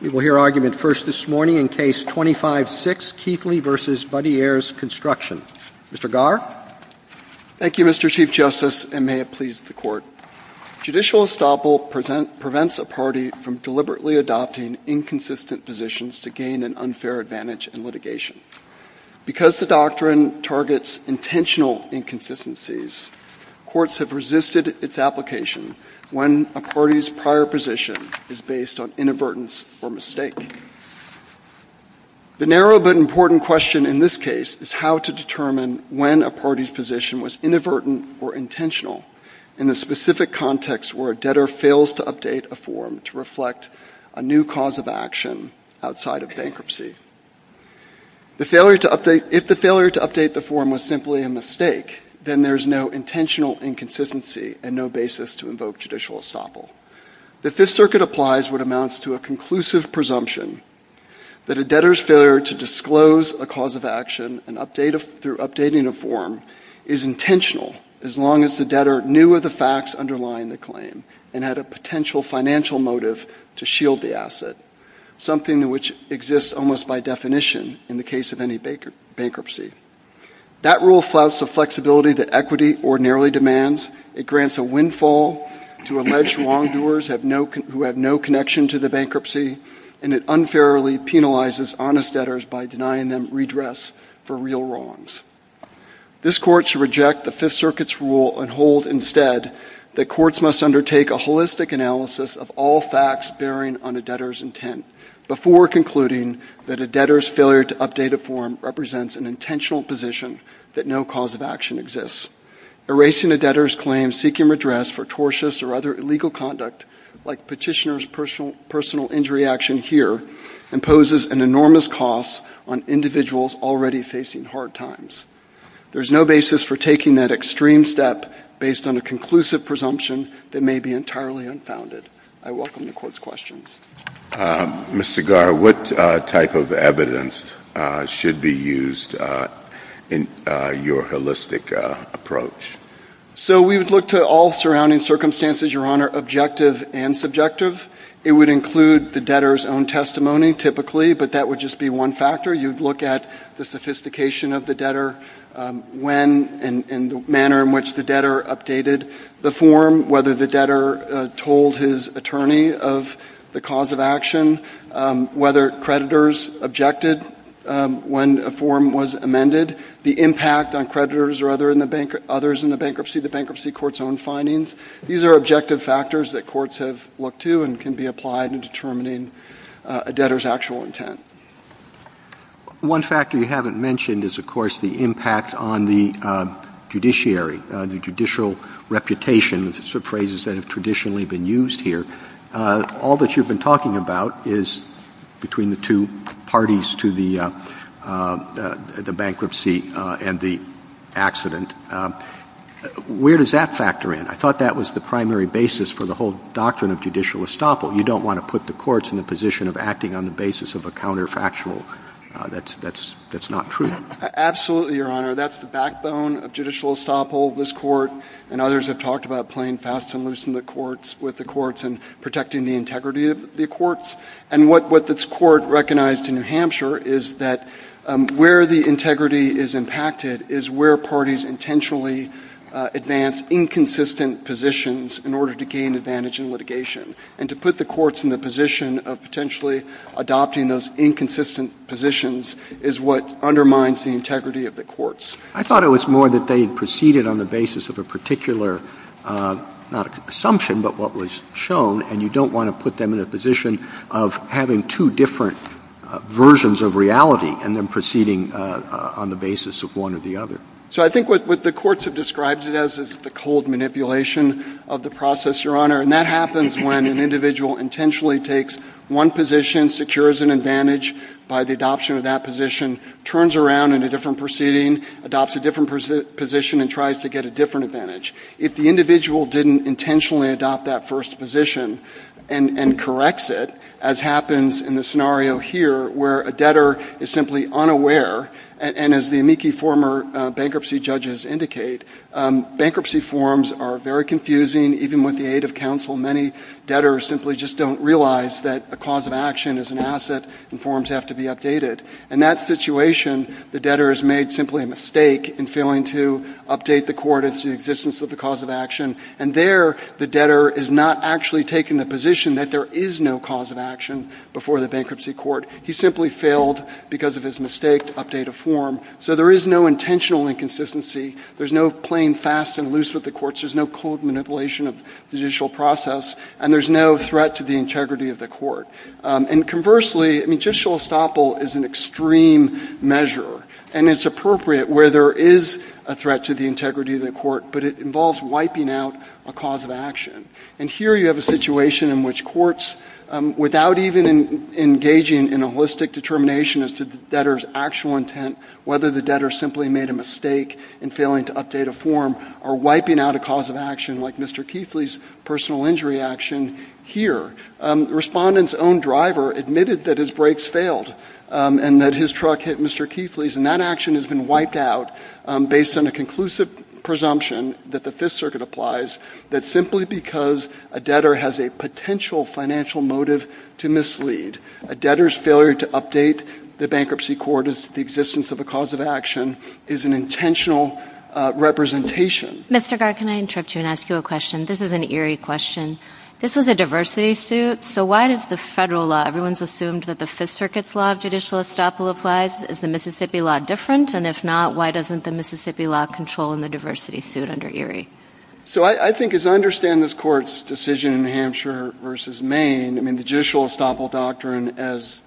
We will hear argument first this morning in Case 25-6, Keithley v. Buddy Ayers Construction. Mr. Garr? Thank you, Mr. Chief Justice, and may it please the Court. Judicial estoppel prevents a party from deliberately adopting inconsistent positions to gain an unfair advantage in litigation. Because the doctrine targets intentional inconsistencies, courts have resisted its application when a party's prior position is based on inadvertence or mistake. The narrow but important question in this case is how to determine when a party's position was inadvertent or intentional in the specific context where a debtor fails to update a form to reflect a new cause of action outside of bankruptcy. If the failure to update the form was simply a mistake, then there is no intentional inconsistency and no basis to invoke judicial estoppel. The Fifth Circuit applies what amounts to a conclusive presumption that a debtor's failure to disclose a cause of action through updating a form is intentional, as long as the debtor knew of the facts underlying the claim and had a potential financial motive to shield the asset, something which exists almost by definition in the case of any bankruptcy. That rule flouts the flexibility that equity ordinarily demands, it grants a windfall to alleged wrongdoers who have no connection to the bankruptcy, and it unfairly penalizes honest debtors by denying them redress for real wrongs. This Court should reject the Fifth Circuit's rule and hold, instead, that courts must undertake a holistic analysis of all facts bearing on a debtor's intent before concluding that a debtor's failure to update a form represents an intentional position that no cause of action exists. Erasing a debtor's claim seeking redress for tortious or other illegal conduct, like petitioner's personal injury action here, imposes an enormous cost on individuals already facing hard times. There is no basis for taking that extreme step based on a conclusive presumption that may be entirely unfounded. I welcome the Court's questions. Mr. Garr, what type of evidence should be used in your holistic approach? So we would look to all surrounding circumstances, Your Honor, objective and subjective. It would include the debtor's own testimony, typically, but that would just be one factor. You would look at the sophistication of the debtor, when and the manner in which the debtor updated the form, whether the debtor told his attorney of the cause of action, whether creditors objected when a form was amended, the impact on creditors or others in the bankruptcy, the bankruptcy court's own findings. These are objective factors that courts have looked to and can be applied in determining a debtor's actual intent. One factor you haven't mentioned is, of course, the impact on the judiciary, the judicial reputation, sort of phrases that have traditionally been used here. All that you've been talking about is between the two parties to the bankruptcy and the accident. Where does that factor in? I thought that was the primary basis for the whole doctrine of judicial estoppel. You don't want to put the courts in the position of acting on the basis of a counterfactual that's not true. Absolutely, Your Honor. That's the backbone of judicial estoppel. This Court and others have talked about playing fast and loose with the courts and protecting the integrity of the courts. And what this Court recognized in New Hampshire is that where the integrity is impacted is where parties intentionally advance inconsistent positions in order to gain advantage in litigation. And to put the courts in the position of potentially adopting those inconsistent positions is what undermines the integrity of the courts. I thought it was more that they proceeded on the basis of a particular assumption, but what was shown, and you don't want to put them in a position of having two different versions of reality and then proceeding on the basis of one or the other. So I think what the courts have described it as is the cold manipulation of the process, Your Honor. And that happens when an individual intentionally takes one position, secures an advantage by the adoption of that position, turns around in a different proceeding, adopts a different position and tries to get a different advantage. If the individual didn't intentionally adopt that first position and corrects it, as happens in the scenario here where a debtor is simply unaware, and as the amici former bankruptcy judges indicate, bankruptcy forms are very confusing even with the aid of counsel. Many debtors simply just don't realize that the cause of action is an asset and forms have to be updated. In that situation, the debtor has made simply a mistake in failing to update the court into existence of the cause of action. And there, the debtor is not actually taking the position that there is no cause of action before the bankruptcy court. He simply failed because of his mistake to update a form. So there is no intentional inconsistency. There's no playing fast and loose with the courts. There's no cold manipulation of judicial process. And there's no threat to the integrity of the court. And conversely, judicial estoppel is an extreme measure, and it's appropriate where there is a threat to the integrity of the court, but it involves wiping out a cause of action. And here you have a situation in which courts, without even engaging in a holistic determination as to the debtor's actual intent, whether the debtor simply made a mistake in failing to update a form or wiping out a cause of action like Mr. Keithley's personal injury action, here, the respondent's own driver admitted that his brakes failed and that his truck hit Mr. Keithley's, and that action has been wiped out based on a conclusive presumption that the Fifth Circuit applies, that simply because a debtor has a potential financial motive to mislead, a debtor's failure to update the bankruptcy court as to the existence of a cause of action is an intentional representation. Ms. Taggart, can I interrupt you and ask you a question? This is an eerie question. This is a diversity suit, so why does the federal law, everyone's assumed that the Fifth Circuit's law of judicial estoppel applies. Is the Mississippi law different? And if not, why doesn't the Mississippi law control in the diversity suit under Erie? So I think as I understand this court's decision in Hampshire versus Maine, I mean, the judicial estoppel doctrine as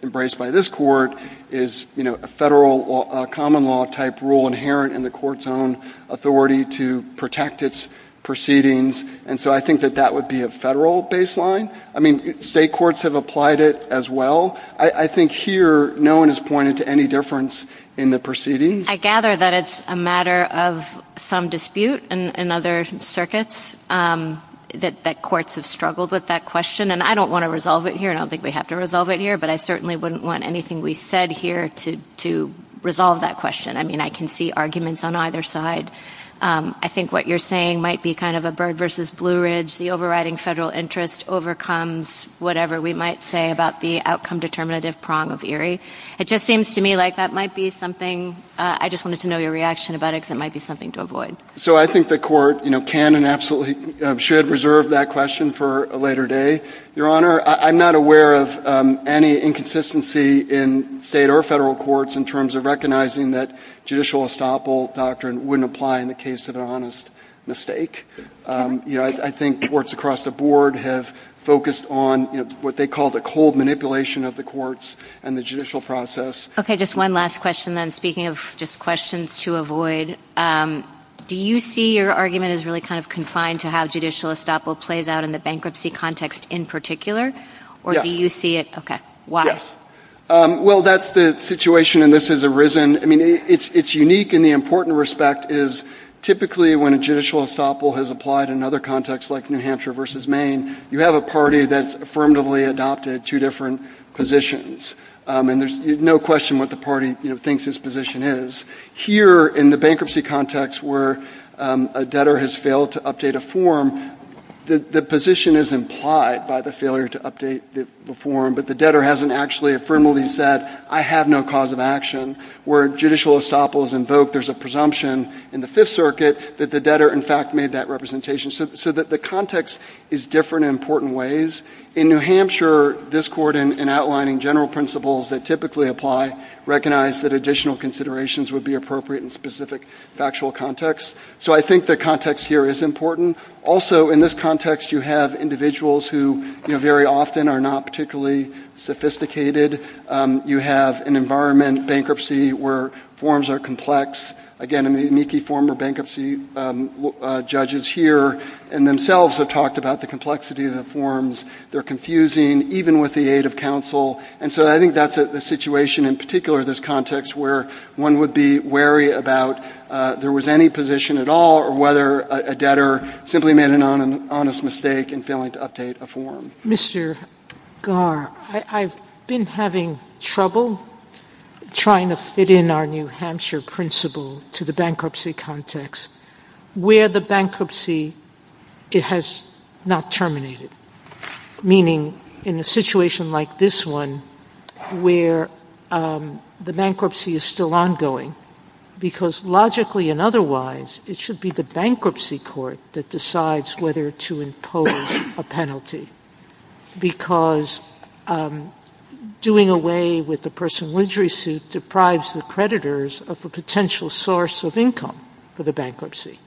embraced by this court is, you know, a federal common law-type rule inherent in the court's own authority to protect its proceedings. And so I think that that would be a federal baseline. I mean, state courts have applied it as well. I think here no one has pointed to any difference in the proceedings. I gather that it's a matter of some dispute in other circuits, that courts have struggled with that question. And I don't want to resolve it here, and I don't think we have to resolve it here, but I certainly wouldn't want anything we've said here to resolve that question. I mean, I can see arguments on either side. I think what you're saying might be kind of a bird versus Blue Ridge, the overriding federal interest overcomes whatever we might say about the outcome-determinative prong of Erie. It just seems to me like that might be something I just wanted to know your reaction about it, because it might be something to avoid. So I think the court can and absolutely should reserve that question for a later day. Your Honor, I'm not aware of any inconsistency in state or federal courts in terms of recognizing that judicial estoppel doctrine wouldn't apply in the case of an honest mistake. I think courts across the board have focused on what they call the cold manipulation of the courts and the judicial process. Okay. Just one last question, then, speaking of just questions to avoid. Do you see your argument as really kind of confined to how judicial estoppel plays out in the bankruptcy context in particular? Yes. Okay. Why? Well, that's the situation, and this has arisen. I mean, it's unique in the important respect is typically when a judicial estoppel has applied in another context, like New Hampshire versus Maine, you have a party that's affirmatively adopted two different positions, and there's no question what the party thinks its position is. Here in the bankruptcy context where a debtor has failed to update a form, the position is implied by the failure to update the form, but the debtor hasn't actually affirmably said, I have no cause of action. Where judicial estoppel is invoked, there's a presumption in the Fifth Circuit that the debtor, in fact, made that representation. So the context is different in important ways. In New Hampshire, this court, in outlining general principles that typically apply, recognized that additional considerations would be appropriate in specific factual contexts. So I think the context here is important. Also, in this context, you have individuals who, you know, very often are not particularly sophisticated. You have an environment, bankruptcy, where forms are complex. Again, I mean, the unique former bankruptcy judges here and themselves have talked about the complexity of the forms. They're confusing, even with the aid of counsel. And so I think that's a situation in particular, this context, where one would be wary about there was any position at all or whether a debtor simply made an honest mistake in failing to update a form. Mr. Garr, I've been having trouble trying to fit in our New Hampshire principle to the bankruptcy context, where the bankruptcy has not terminated. Meaning, in a situation like this one, where the bankruptcy is still ongoing, because logically and otherwise, it should be the bankruptcy court that decides whether to impose a penalty. Because doing away with the personal injury suit deprives the creditors of a potential source of income for the bankruptcy.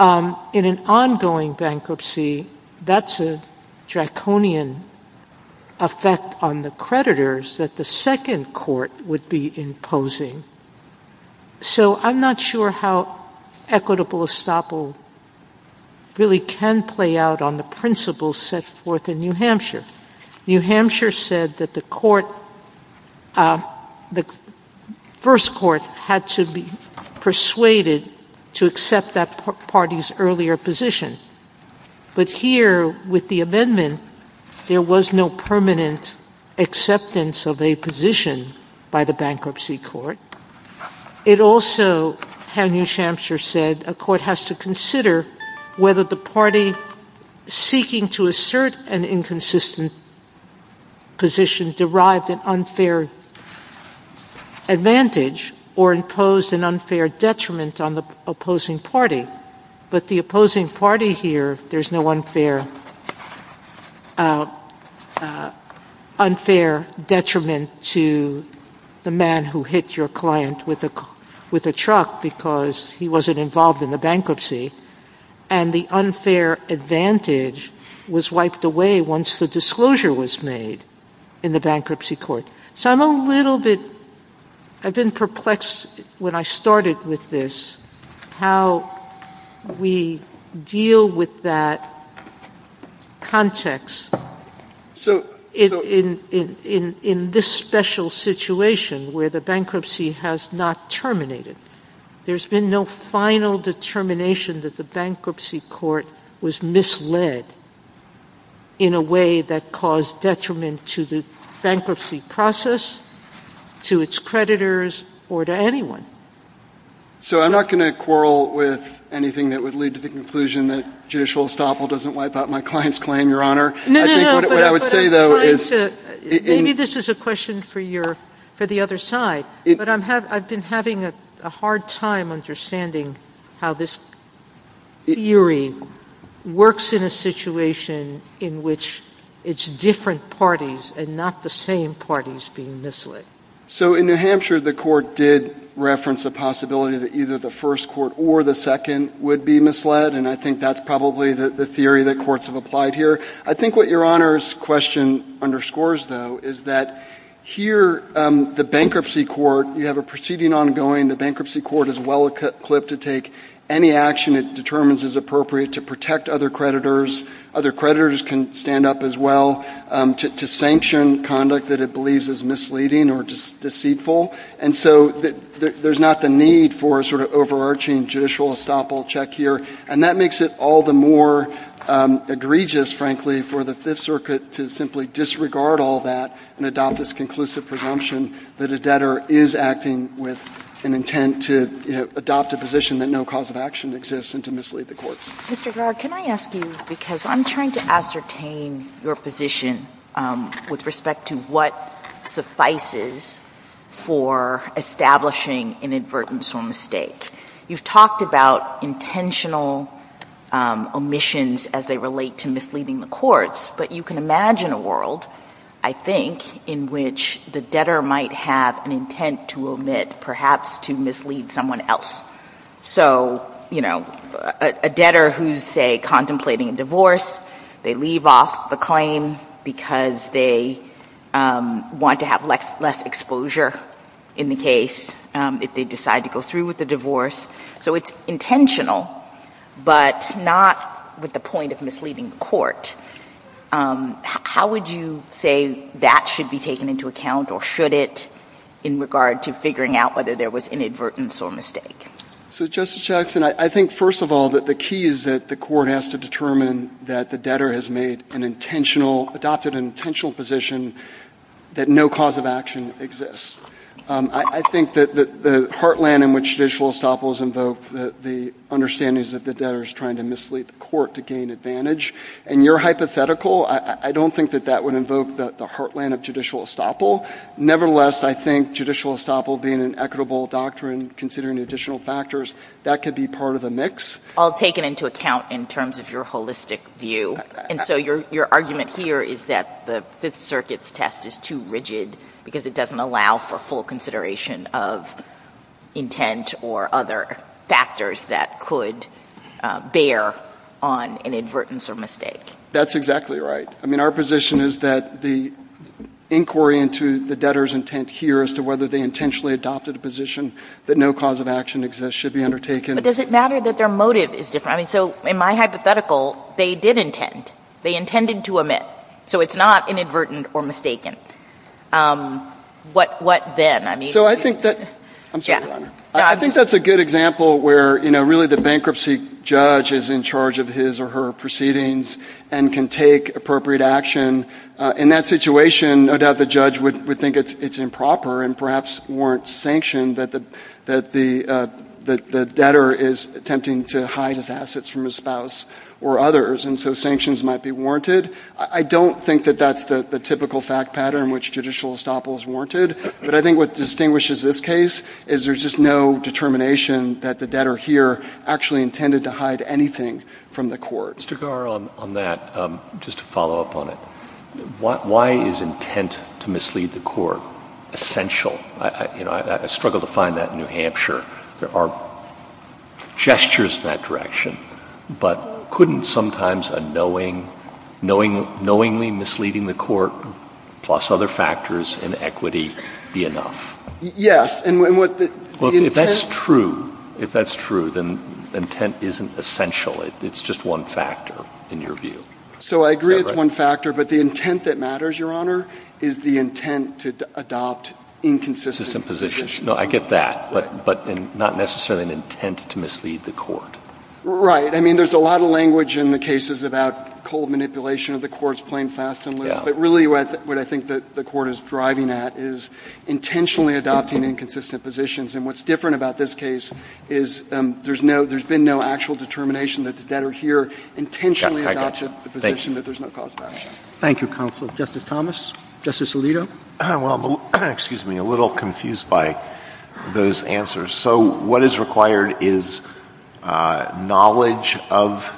In an ongoing bankruptcy, that's a draconian effect on the creditors that the second court would be imposing. So I'm not sure how equitable estoppel really can play out on the principles set forth in New Hampshire. New Hampshire said that the first court had to be persuaded to accept that party's earlier position. But here, with the amendment, there was no permanent acceptance of a position by the bankruptcy court. It also, as New Hampshire said, a court has to consider whether the party seeking to assert an inconsistent position derived an unfair advantage or imposed an unfair detriment on the opposing party. But the opposing party here, there's no unfair detriment to the man who hit your client with a truck because he wasn't involved in the bankruptcy. And the unfair advantage was wiped away once the disclosure was made in the bankruptcy court. So I'm a little bit perplexed when I started with this, how we deal with that context in this special situation where the bankruptcy has not terminated. There's been no final determination that the bankruptcy court was misled in a way that caused detriment to the bankruptcy process, to its creditors, or to anyone. So I'm not going to quarrel with anything that would lead to the conclusion that judicial estoppel doesn't wipe out my client's claim, Your Honor. No, no, no. What I would say, though, is... Maybe this is a question for the other side. But I've been having a hard time understanding how this theory works in a situation in which it's different parties and not the same parties being misled. So in New Hampshire, the court did reference the possibility that either the first court or the second would be misled, and I think that's probably the theory that courts have applied here. I think what Your Honor's question underscores, though, is that here, the bankruptcy court, you have a proceeding ongoing. The bankruptcy court is well-equipped to take any action it determines is appropriate to protect other creditors. Other creditors can stand up as well to sanction conduct that it believes is misleading or deceitful. And so there's not the need for a sort of overarching judicial estoppel check here. And that makes it all the more egregious, frankly, for the Fifth Circuit to simply disregard all that and adopt this conclusive presumption that a debtor is acting with an intent to adopt a position that no cause of action exists and to mislead the courts. Mr. Garrett, can I ask you, because I'm trying to ascertain your position with respect to what suffices for establishing an inadvertence or mistake. You've talked about intentional omissions as they relate to misleading the courts, but you can imagine a world, I think, in which the debtor might have an intent to omit, perhaps to mislead someone else. So, you know, a debtor who's, say, contemplating a divorce, they leave off the claim because they want to have less exposure in the case if they decide to go through with the divorce. So it's intentional, but not with the point of misleading the court. How would you say that should be taken into account or should it in regard to figuring out whether there was an inadvertence or mistake? So, Justice Jackson, I think, first of all, that the key is that the court has to determine that the debtor has made an intentional, adopted an intentional position that no cause of action exists. I think that the heartland in which judicial estoppel is invoked, the understanding is that the debtor is trying to mislead the court to gain advantage. And you're hypothetical. I don't think that that would invoke the heartland of judicial estoppel. Nevertheless, I think judicial estoppel being an equitable doctrine, considering the additional factors, that could be part of a mix. I'll take it into account in terms of your holistic view. And so your argument here is that the Fifth Circuit's test is too rigid because it doesn't allow for full consideration of intent or other factors that could bear on inadvertence or mistake. That's exactly right. I mean, our position is that the inquiry into the debtor's intent here as to whether they intentionally adopted a position that no cause of action exists should be undertaken. But does it matter that their motive is different? I mean, so in my hypothetical, they did intend. They intended to omit. So it's not inadvertent or mistaken. What then? So I think that's a good example where, you know, really the bankruptcy judge is in charge of his or her proceedings and can take appropriate action. In that situation, no doubt the judge would think it's improper and perhaps warrant sanction that the debtor is attempting to hide his assets from his spouse or others, and so sanctions might be warranted. I don't think that that's the typical fact pattern which judicial estoppels warranted, but I think what distinguishes this case is there's just no determination that the debtor here actually intended to hide anything from the court. Mr. Garre, on that, just to follow up on it, why is intent to mislead the court essential? You know, I struggle to find that in New Hampshire. There are gestures in that direction, but couldn't sometimes a knowingly misleading the court plus other factors in equity be enough? Yes. If that's true, then intent isn't essential. It's just one factor in your view. So I agree it's one factor, but the intent that matters, Your Honor, is the intent to adopt inconsistent positions. No, I get that, but not necessarily an intent to mislead the court. Right. I mean, there's a lot of language in the cases about cold manipulation of the courts playing fast and loose, but really what I think the court is driving at is intentionally adopting inconsistent positions, and what's different about this case is there's been no actual determination that the debtor here intentionally adopted the position that there's no cause for action. Thank you, counsel. Justice Thomas? Justice Alito? Well, excuse me, I'm a little confused by those answers. So what is required is knowledge of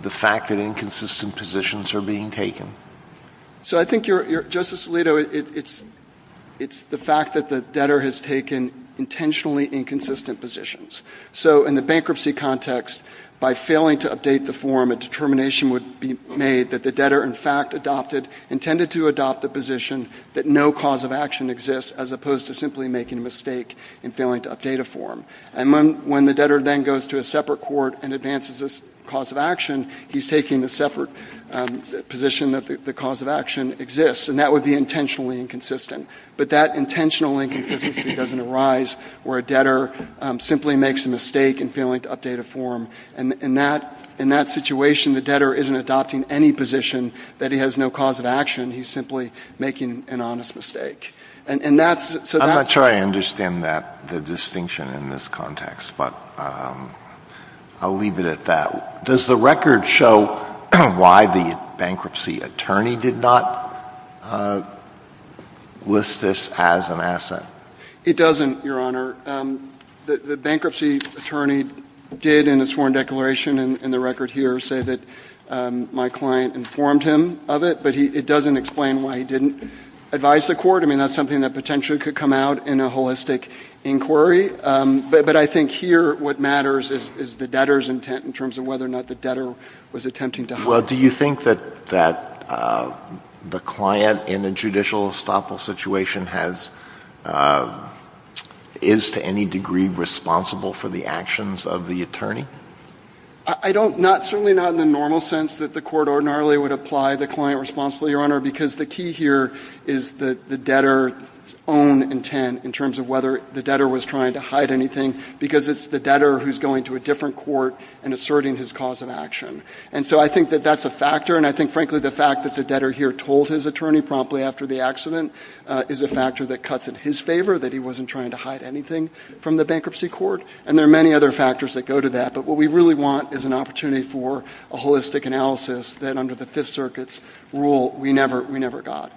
the fact that inconsistent positions are being taken. So I think, Justice Alito, it's the fact that the debtor has taken intentionally inconsistent positions. So in the bankruptcy context, by failing to update the form, a determination would be made that the debtor, in fact, intended to adopt the position that no cause of action exists as opposed to simply making a mistake in failing to update a form. And when the debtor then goes to a separate court and advances this cause of action, he's taking the separate position that the cause of action exists, and that would be intentionally inconsistent. But that intentionally inconsistency doesn't arise where a debtor simply makes a mistake in failing to update a form. In that situation, the debtor isn't adopting any position that he has no cause of action. He's simply making an honest mistake. I'm not sure I understand the distinction in this context, but I'll leave it at that. Does the record show why the bankruptcy attorney did not list this as an asset? It doesn't, Your Honor. The bankruptcy attorney did in his sworn declaration in the record here say that my client informed him of it, but it doesn't explain why he didn't advise the court. I mean, that's something that potentially could come out in a holistic inquiry. But I think here what matters is the debtor's intent in terms of whether or not the debtor was attempting to hide it. Well, do you think that the client in a judicial estoppel situation is to any degree responsible for the actions of the attorney? I don't. Certainly not in the normal sense that the court ordinarily would apply the client responsible, Your Honor, because the key here is the debtor's own intent in terms of whether the debtor was trying to hide anything because it's the debtor who's going to a different court and asserting his cause of action. And so I think that that's a factor, and I think, frankly, the fact that the debtor here told his attorney promptly after the accident is a factor that cuts in his favor, that he wasn't trying to hide anything from the bankruptcy court, and there are many other factors that go to that. But what we really want is an opportunity for a holistic analysis that under the Fifth Circuit's rule we never got.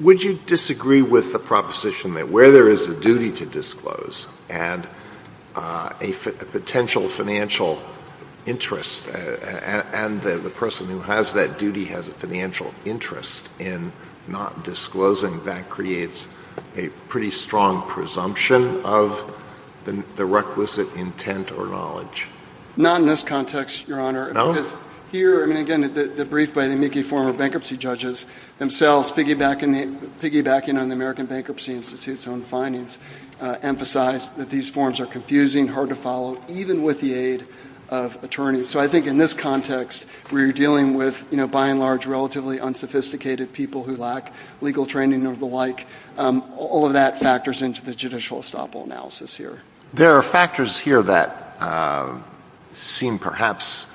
Would you disagree with the proposition that where there is a duty to disclose and a potential financial interest and the person who has that duty has a financial interest in not disclosing, that creates a pretty strong presumption of the requisite intent or knowledge? Not in this context, Your Honor. No? Because here, again, the brief by the amici former bankruptcy judges themselves piggybacking on the American bankruptcy to see its own findings emphasize that these forms are confusing, hard to follow, even with the aid of attorneys. So I think in this context, where you're dealing with, by and large, relatively unsophisticated people who lack legal training or the like, all of that factors into the judicial estoppel analysis here. There are factors here that seem perhaps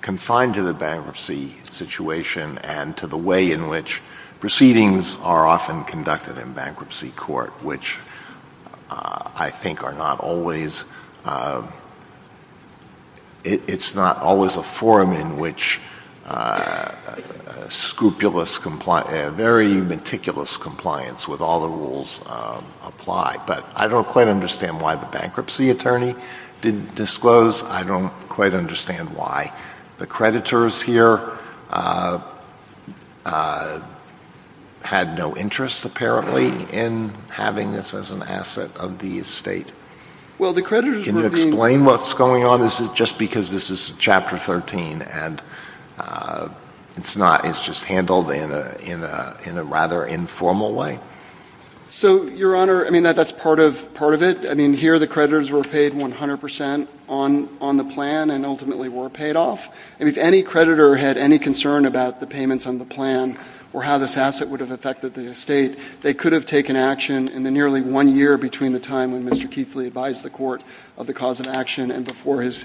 confined to the bankruptcy situation and to the way in which proceedings are often conducted in bankruptcy court, which I think are not always a form in which scrupulous, very meticulous compliance with all the rules apply. But I don't quite understand why the bankruptcy attorney didn't disclose. I don't quite understand why. The creditors here had no interest, apparently, in having this as an asset of the estate. Can you explain what's going on? Is it just because this is Chapter 13 and it's just handled in a rather informal way? So, Your Honor, I mean, that's part of it. I mean, here the creditors were paid 100 percent on the plan and ultimately were paid off. And if any creditor had any concern about the payments on the plan or how this asset would have affected the estate, they could have taken action in the nearly one year between the time when Mr. Keithley advised the court of the cause of action and before his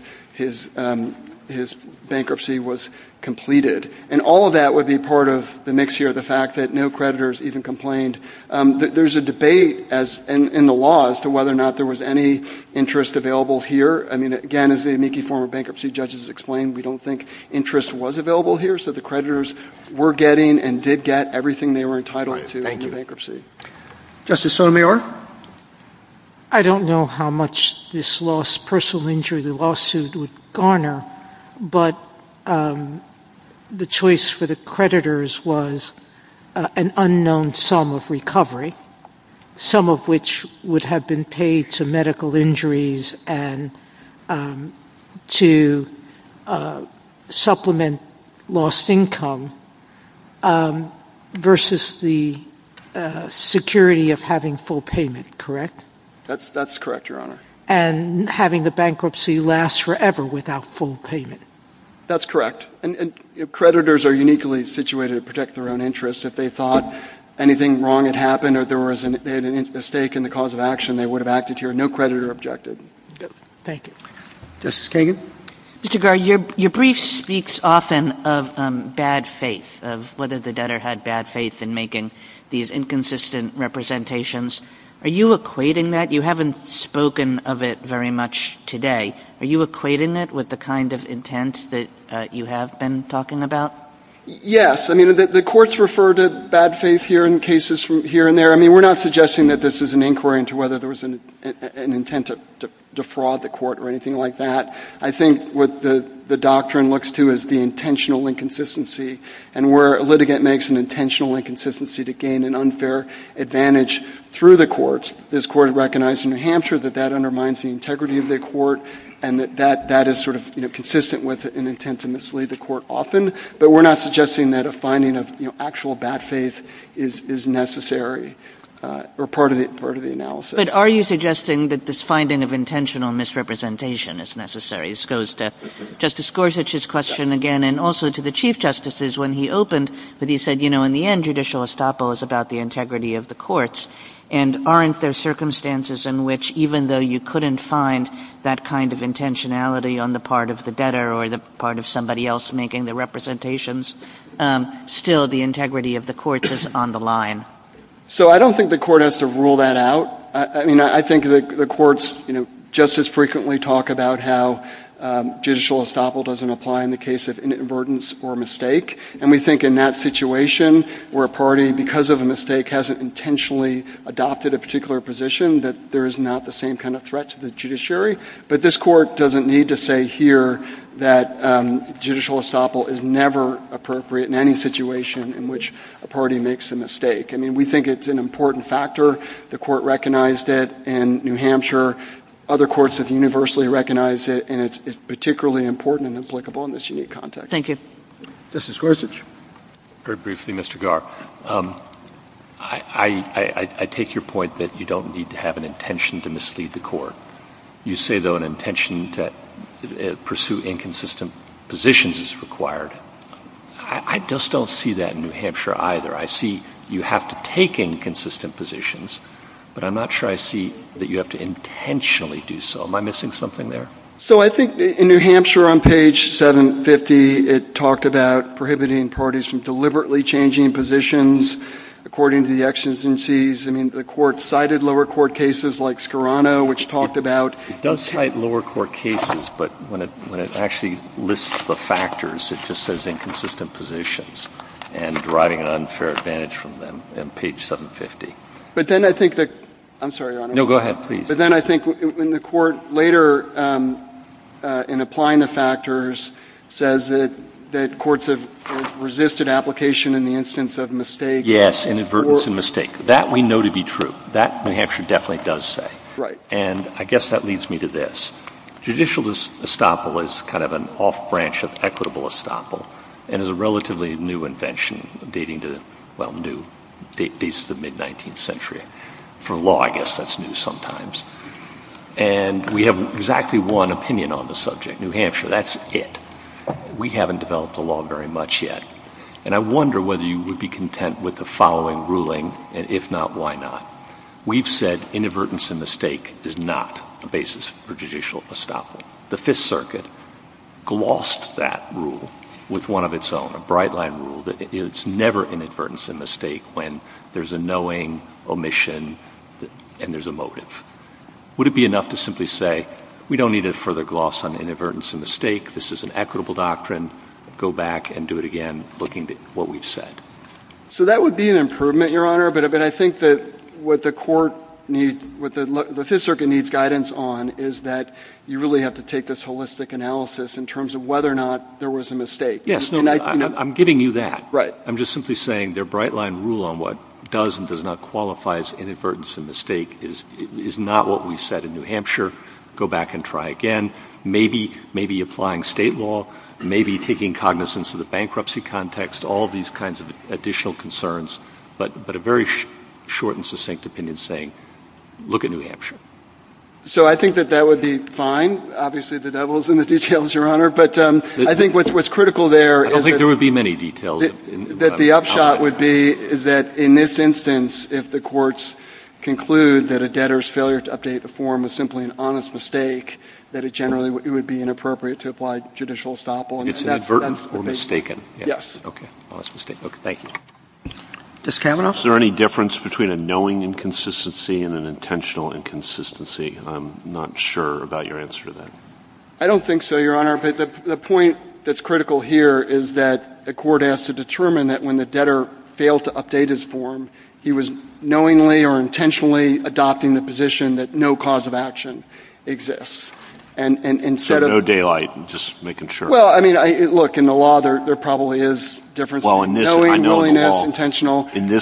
bankruptcy was completed. And all of that would be part of the mix here, the fact that no creditors even complained. There's a debate in the law as to whether or not there was any interest available here. I mean, again, as the amici former bankruptcy judges explained, we don't think interest was available here, so the creditors were getting and did get everything they were entitled to in the bankruptcy. Thank you. Justice Sotomayor? I don't know how much this loss, personal injury lawsuit would garner, but the choice for the creditors was an unknown sum of recovery, some of which would have been paid to medical injuries and to supplement lost income versus the security of having full payment, correct? That's correct, Your Honor. And having the bankruptcy last forever without full payment. That's correct. And creditors are uniquely situated to protect their own interests. If they thought anything wrong had happened or there was a mistake in the cause of action, they would have acted here. No creditor objected. Thank you. Justice Kagan? Mr. Garre, your brief speaks often of bad faith, of whether the debtor had bad faith in making these inconsistent representations. Are you equating that? You haven't spoken of it very much today. Are you equating it with the kind of intent that you have been talking about? Yes. I mean, the courts refer to bad faith here in cases from here and there. I mean, we're not suggesting that this is an inquiry into whether there was an intent to defraud the court or anything like that. I think what the doctrine looks to is the intentional inconsistency, and where a litigant makes an intentional inconsistency to gain an unfair advantage through the courts, this court recognized in New Hampshire that that undermines the integrity of the court and that that is sort of consistent with an intent to mislead the court often, but we're not suggesting that a finding of actual bad faith is necessary or part of the analysis. But are you suggesting that this finding of intentional misrepresentation is necessary? This goes to Justice Gorsuch's question again and also to the Chief Justices when he opened, that he said, you know, in the end, judicial estoppel is about the integrity of the courts, and aren't there circumstances in which even though you couldn't find that kind of intentionality on the part of the debtor or the part of somebody else making the representations, still the integrity of the courts is on the line? So I don't think the court has to rule that out. I mean, I think the courts, you know, just as frequently talk about how judicial estoppel doesn't apply in the case of inadvertence or mistake, and we think in that situation where a party, because of a mistake, hasn't intentionally adopted a particular position, that there is not the same kind of threat to the judiciary. But this Court doesn't need to say here that judicial estoppel is never appropriate in any situation in which a party makes a mistake. I mean, we think it's an important factor. The Court recognized it in New Hampshire. Other courts have universally recognized it, and it's particularly important and applicable in this unique context. Thank you. Justice Gorsuch. Very briefly, Mr. Garr. I take your point that you don't need to have an intention to mislead the court. You say, though, an intention to pursue inconsistent positions is required. I just don't see that in New Hampshire either. I see you have to take inconsistent positions, but I'm not sure I see that you have to intentionally do so. Am I missing something there? So I think in New Hampshire on page 750, it talked about prohibiting parties from deliberately changing positions according to the exigencies. I mean, the Court cited lower court cases like Scarano, which talked about — It does cite lower court cases, but when it actually lists the factors, it just says inconsistent positions and deriving an unfair advantage from them on page 750. But then I think that — I'm sorry, Your Honor. No, go ahead, please. But then I think in the Court later, in applying the factors, says that courts have resisted application in the instance of mistake. Yes, inadvertence and mistake. That we know to be true. That New Hampshire definitely does say. Right. And I guess that leads me to this. Judicial estoppel is kind of an off-branch of equitable estoppel and is a relatively new invention dating to, well, new. It dates to the mid-19th century. For law, I guess that's new sometimes. And we have exactly one opinion on the subject, New Hampshire. That's it. We haven't developed a law very much yet. And I wonder whether you would be content with the following ruling, and if not, why not? We've said inadvertence and mistake is not a basis for judicial estoppel. The Fifth Circuit glossed that rule with one of its own, a bright-line rule, that it's never inadvertence and mistake when there's a knowing omission and there's a motive. Would it be enough to simply say, we don't need a further gloss on inadvertence and mistake, this is an equitable doctrine, go back and do it again, looking at what we've said? So that would be an improvement, Your Honor, but I think that what the court needs, what the Fifth Circuit needs guidance on is that you really have to take this holistic analysis in terms of whether or not there was a mistake. Yes, no, I'm giving you that. Right. I'm just simply saying their bright-line rule on what does and does not qualify as inadvertence and mistake is not what we said in New Hampshire. Go back and try again. Maybe applying state law, maybe taking cognizance of the bankruptcy context, all these kinds of additional concerns, but a very short and succinct opinion saying, look at New Hampshire. So I think that that would be fine. Obviously, the devil is in the details, Your Honor, but I think what's critical there is that the upshot would be that, in this instance, if the courts conclude that a debtor's failure to update the form was simply an honest mistake, that it generally would be inappropriate to apply judicial estoppel. It's inadvertent or mistaken. Yes. Okay. Honest mistake. Okay, thank you. Mr. Kavanaugh? Is there any difference between a knowing inconsistency and an intentional inconsistency? I'm not sure about your answer to that. I don't think so, Your Honor. The point that's critical here is that the court has to determine that when the debtor failed to update his form, he was knowingly or intentionally adopting the position that no cause of action exists. So no daylight, just making sure. Well, I mean, look, in the law, there probably is a difference. Well, in this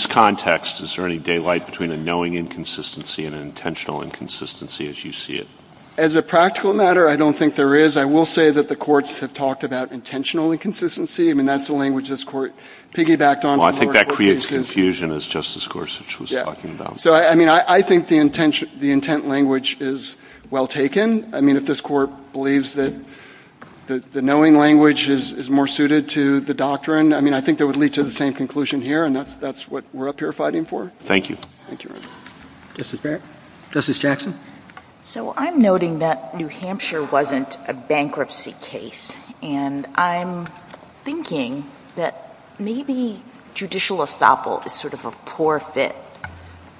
context, is there any daylight between a knowing inconsistency and an intentional inconsistency as you see it? As a practical matter, I don't think there is. I will say that the courts have talked about intentional inconsistency. I mean, that's the language this Court piggybacked on. Well, I think that creates confusion, as Justice Gorsuch was talking about. So, I mean, I think the intent language is well taken. I mean, if this Court believes that the knowing language is more suited to the doctrine, I mean, I think that would lead to the same conclusion here, and that's what we're up here fighting for. Thank you. Thank you. Justice Barrett? Justice Jackson? So I'm noting that New Hampshire wasn't a bankruptcy case, and I'm thinking that maybe judicial estoppel is sort of a poor fit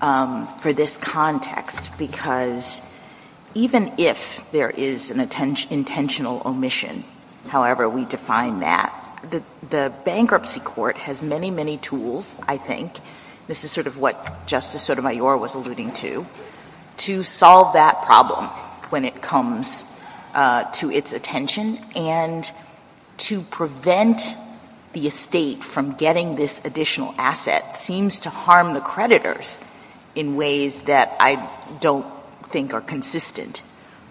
for this context because even if there is an intentional omission, however we define that, the bankruptcy court has many, many tools, I think, this is sort of what Justice Sotomayor was alluding to, to solve that problem when it comes to its attention and to prevent the estate from getting this additional asset seems to harm the creditors in ways that I don't think are consistent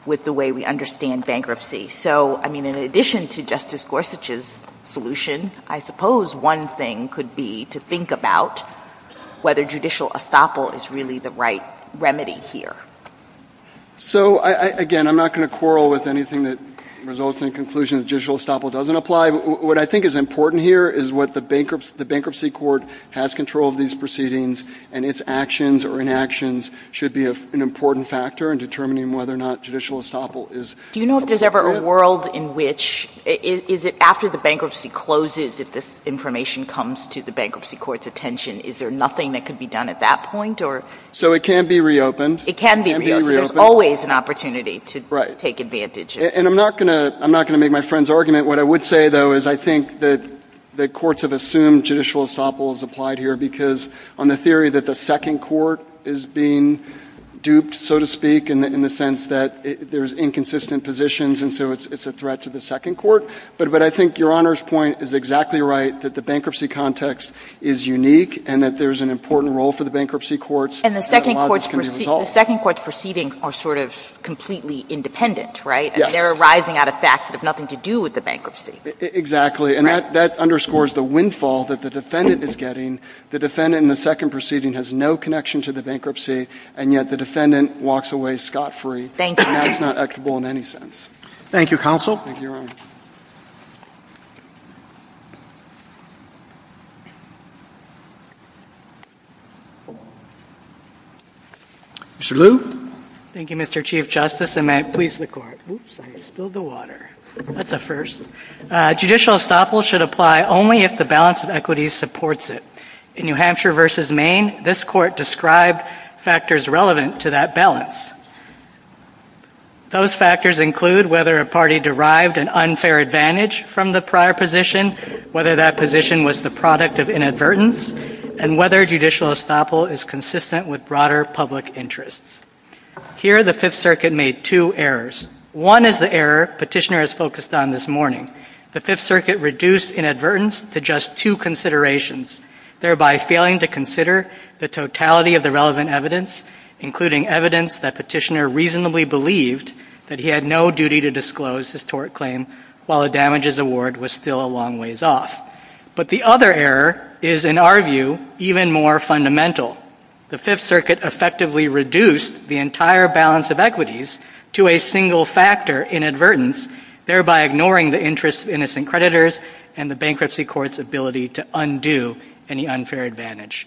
with the way we understand bankruptcy. So, I mean, in addition to Justice Gorsuch's solution, I suppose one thing could be to think about whether judicial estoppel is really the right remedy here. So, again, I'm not going to quarrel with anything that results in a conclusion that judicial estoppel doesn't apply. What I think is important here is what the bankruptcy court has control of these proceedings and its actions or inactions should be an important factor in determining whether or not judicial estoppel is. Do you know if there's ever a world in which, is it after the bankruptcy closes if this information comes to the bankruptcy court's attention? Is there nothing that can be done at that point? So it can be reopened. It can be reopened. There's always an opportunity to take advantage of. Right. And I'm not going to make my friend's argument. What I would say, though, is I think that the courts have assumed judicial estoppel has applied here because on the theory that the second court is being duped, so to speak, in the sense that there's inconsistent positions and so it's a threat to the second court. But I think Your Honor's point is exactly right that the bankruptcy context is unique and that there's an important role for the bankruptcy courts. And the second court's proceedings are sort of completely independent, right? And they're arising out of facts that have nothing to do with the bankruptcy. Exactly. And that underscores the windfall that the defendant is getting. The defendant in the second proceeding has no connection to the bankruptcy, and yet the defendant walks away scot-free. Thank you. And that's not equitable in any sense. Thank you, Counsel. Thank you, Your Honor. Mr. Liu? Thank you, Mr. Chief Justice, and may it please the Court. Oops, I spilled the water. That's a first. Judicial estoppel should apply only if the balance of equity supports it. In New Hampshire v. Maine, this Court described factors relevant to that balance. Those factors include whether a party derived an unfair advantage from the prior position, whether that position was the product of inadvertence, and whether judicial estoppel is consistent with broader public interests. Here, the Fifth Circuit made two errors. One is the error Petitioner has focused on this morning. The Fifth Circuit reduced inadvertence to just two considerations, thereby failing to consider the totality of the relevant evidence, including evidence that Petitioner reasonably believed that he had no duty to disclose his tort claim while a damages award was still a long ways off. But the other error is, in our view, even more fundamental. The Fifth Circuit effectively reduced the entire balance of equities to a single factor, inadvertence, thereby ignoring the interests of innocent creditors and the bankruptcy court's ability to undo any unfair advantage.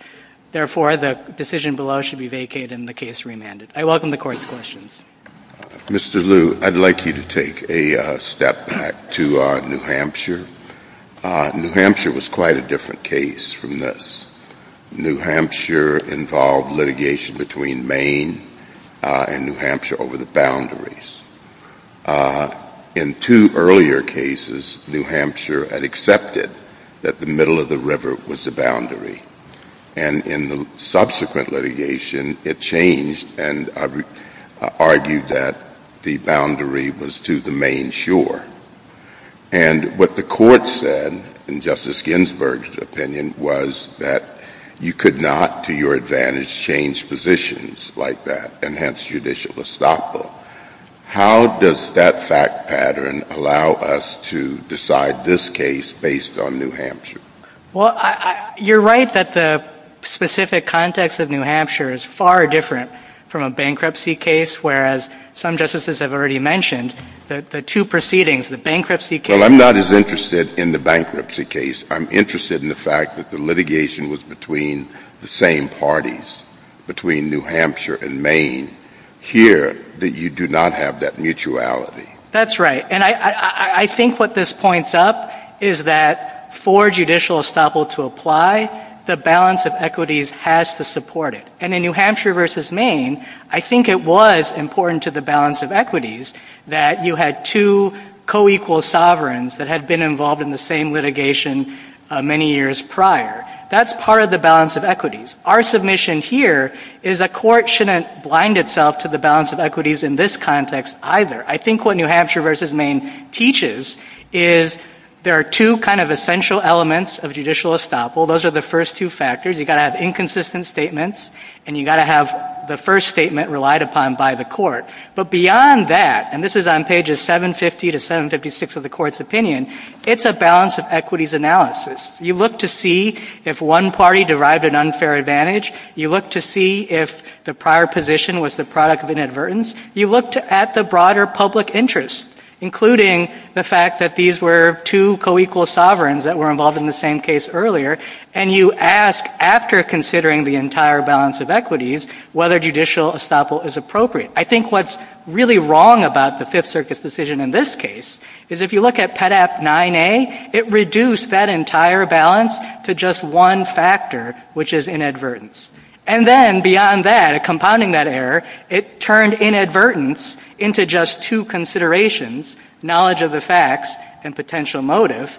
Therefore, the decision below should be vacated and the case remanded. I welcome the Court's questions. Mr. Liu, I'd like you to take a step back to New Hampshire. New Hampshire was quite a different case from this. New Hampshire involved litigation between Maine and New Hampshire over the boundaries. In two earlier cases, New Hampshire had accepted that the middle of the river was the boundary, and in the subsequent litigation, it changed and argued that the boundary was to the Maine shore. And what the Court said, in Justice Ginsburg's opinion, was that you could not, to your advantage, change positions like that, and hence judicial estoppel. How does that fact pattern allow us to decide this case based on New Hampshire? Well, you're right that the specific context of New Hampshire is far different from a bankruptcy case, whereas some justices have already mentioned that the two proceedings, the bankruptcy case— Well, I'm not as interested in the bankruptcy case. I'm interested in the fact that the litigation was between the same parties, between New Hampshire and Maine. Here, you do not have that mutuality. That's right, and I think what this points up is that for judicial estoppel to apply, the balance of equities has to support it. And in New Hampshire v. Maine, I think it was important to the balance of equities that you had two co-equal sovereigns that had been involved in the same litigation many years prior. That's part of the balance of equities. Our submission here is a court shouldn't blind itself to the balance of equities in this context either. I think what New Hampshire v. Maine teaches is there are two kind of essential elements of judicial estoppel. Those are the first two factors. You've got to have inconsistent statements, and you've got to have the first statement relied upon by the court. But beyond that—and this is on pages 750 to 756 of the court's opinion—it's a balance of equities analysis. You look to see if one party derived an unfair advantage. You look to see if the prior position was the product of inadvertence. You look at the broader public interest, including the fact that these were two co-equal sovereigns that were involved in the same case earlier, and you ask, after considering the entire balance of equities, whether judicial estoppel is appropriate. I think what's really wrong about the Fifth Circuit's decision in this case is if you look at Pet Act 9A, it reduced that entire balance to just one factor, which is inadvertence. And then beyond that, compounding that error, it turned inadvertence into just two considerations, knowledge of the facts and potential motive,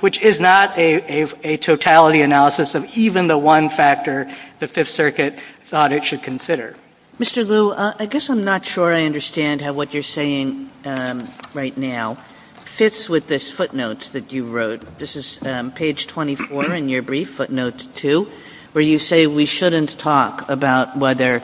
which is not a totality analysis of even the one factor the Fifth Circuit thought it should consider. Mr. Lu, I guess I'm not sure I understand how what you're saying right now fits with this footnote that you wrote. This is page 24 in your brief, footnote 2, where you say we shouldn't talk about whether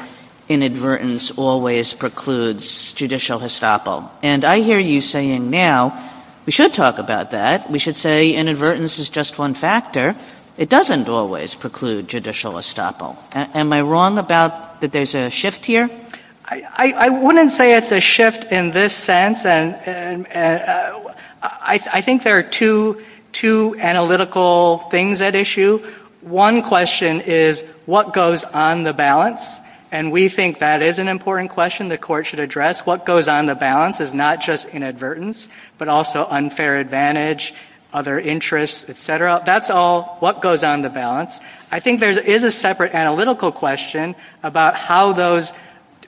inadvertence always precludes judicial estoppel. And I hear you saying now we should talk about that. We should say inadvertence is just one factor. It doesn't always preclude judicial estoppel. Am I wrong about that there's a shift here? I wouldn't say it's a shift in this sense. I think there are two analytical things at issue. One question is what goes on the balance? And we think that is an important question the court should address. What goes on the balance is not just inadvertence, but also unfair advantage, other interests, et cetera. That's all what goes on the balance. I think there is a separate analytical question about how those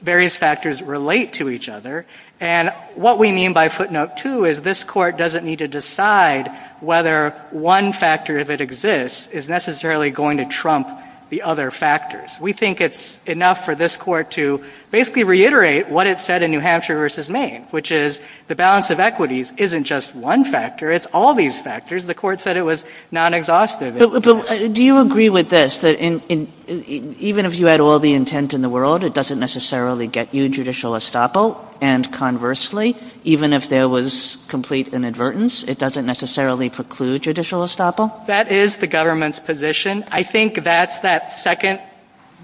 various factors relate to each other. And what we mean by footnote 2 is this court doesn't need to decide whether one factor, if it exists, is necessarily going to trump the other factors. We think it's enough for this court to basically reiterate what it said in New Hampshire versus Maine, which is the balance of equities isn't just one factor, it's all these factors. The court said it was non-exhaustive. Do you agree with this, that even if you had all the intent in the world, it doesn't necessarily get you judicial estoppel, and conversely, even if there was complete inadvertence, it doesn't necessarily preclude judicial estoppel? That is the government's position. I think that's that second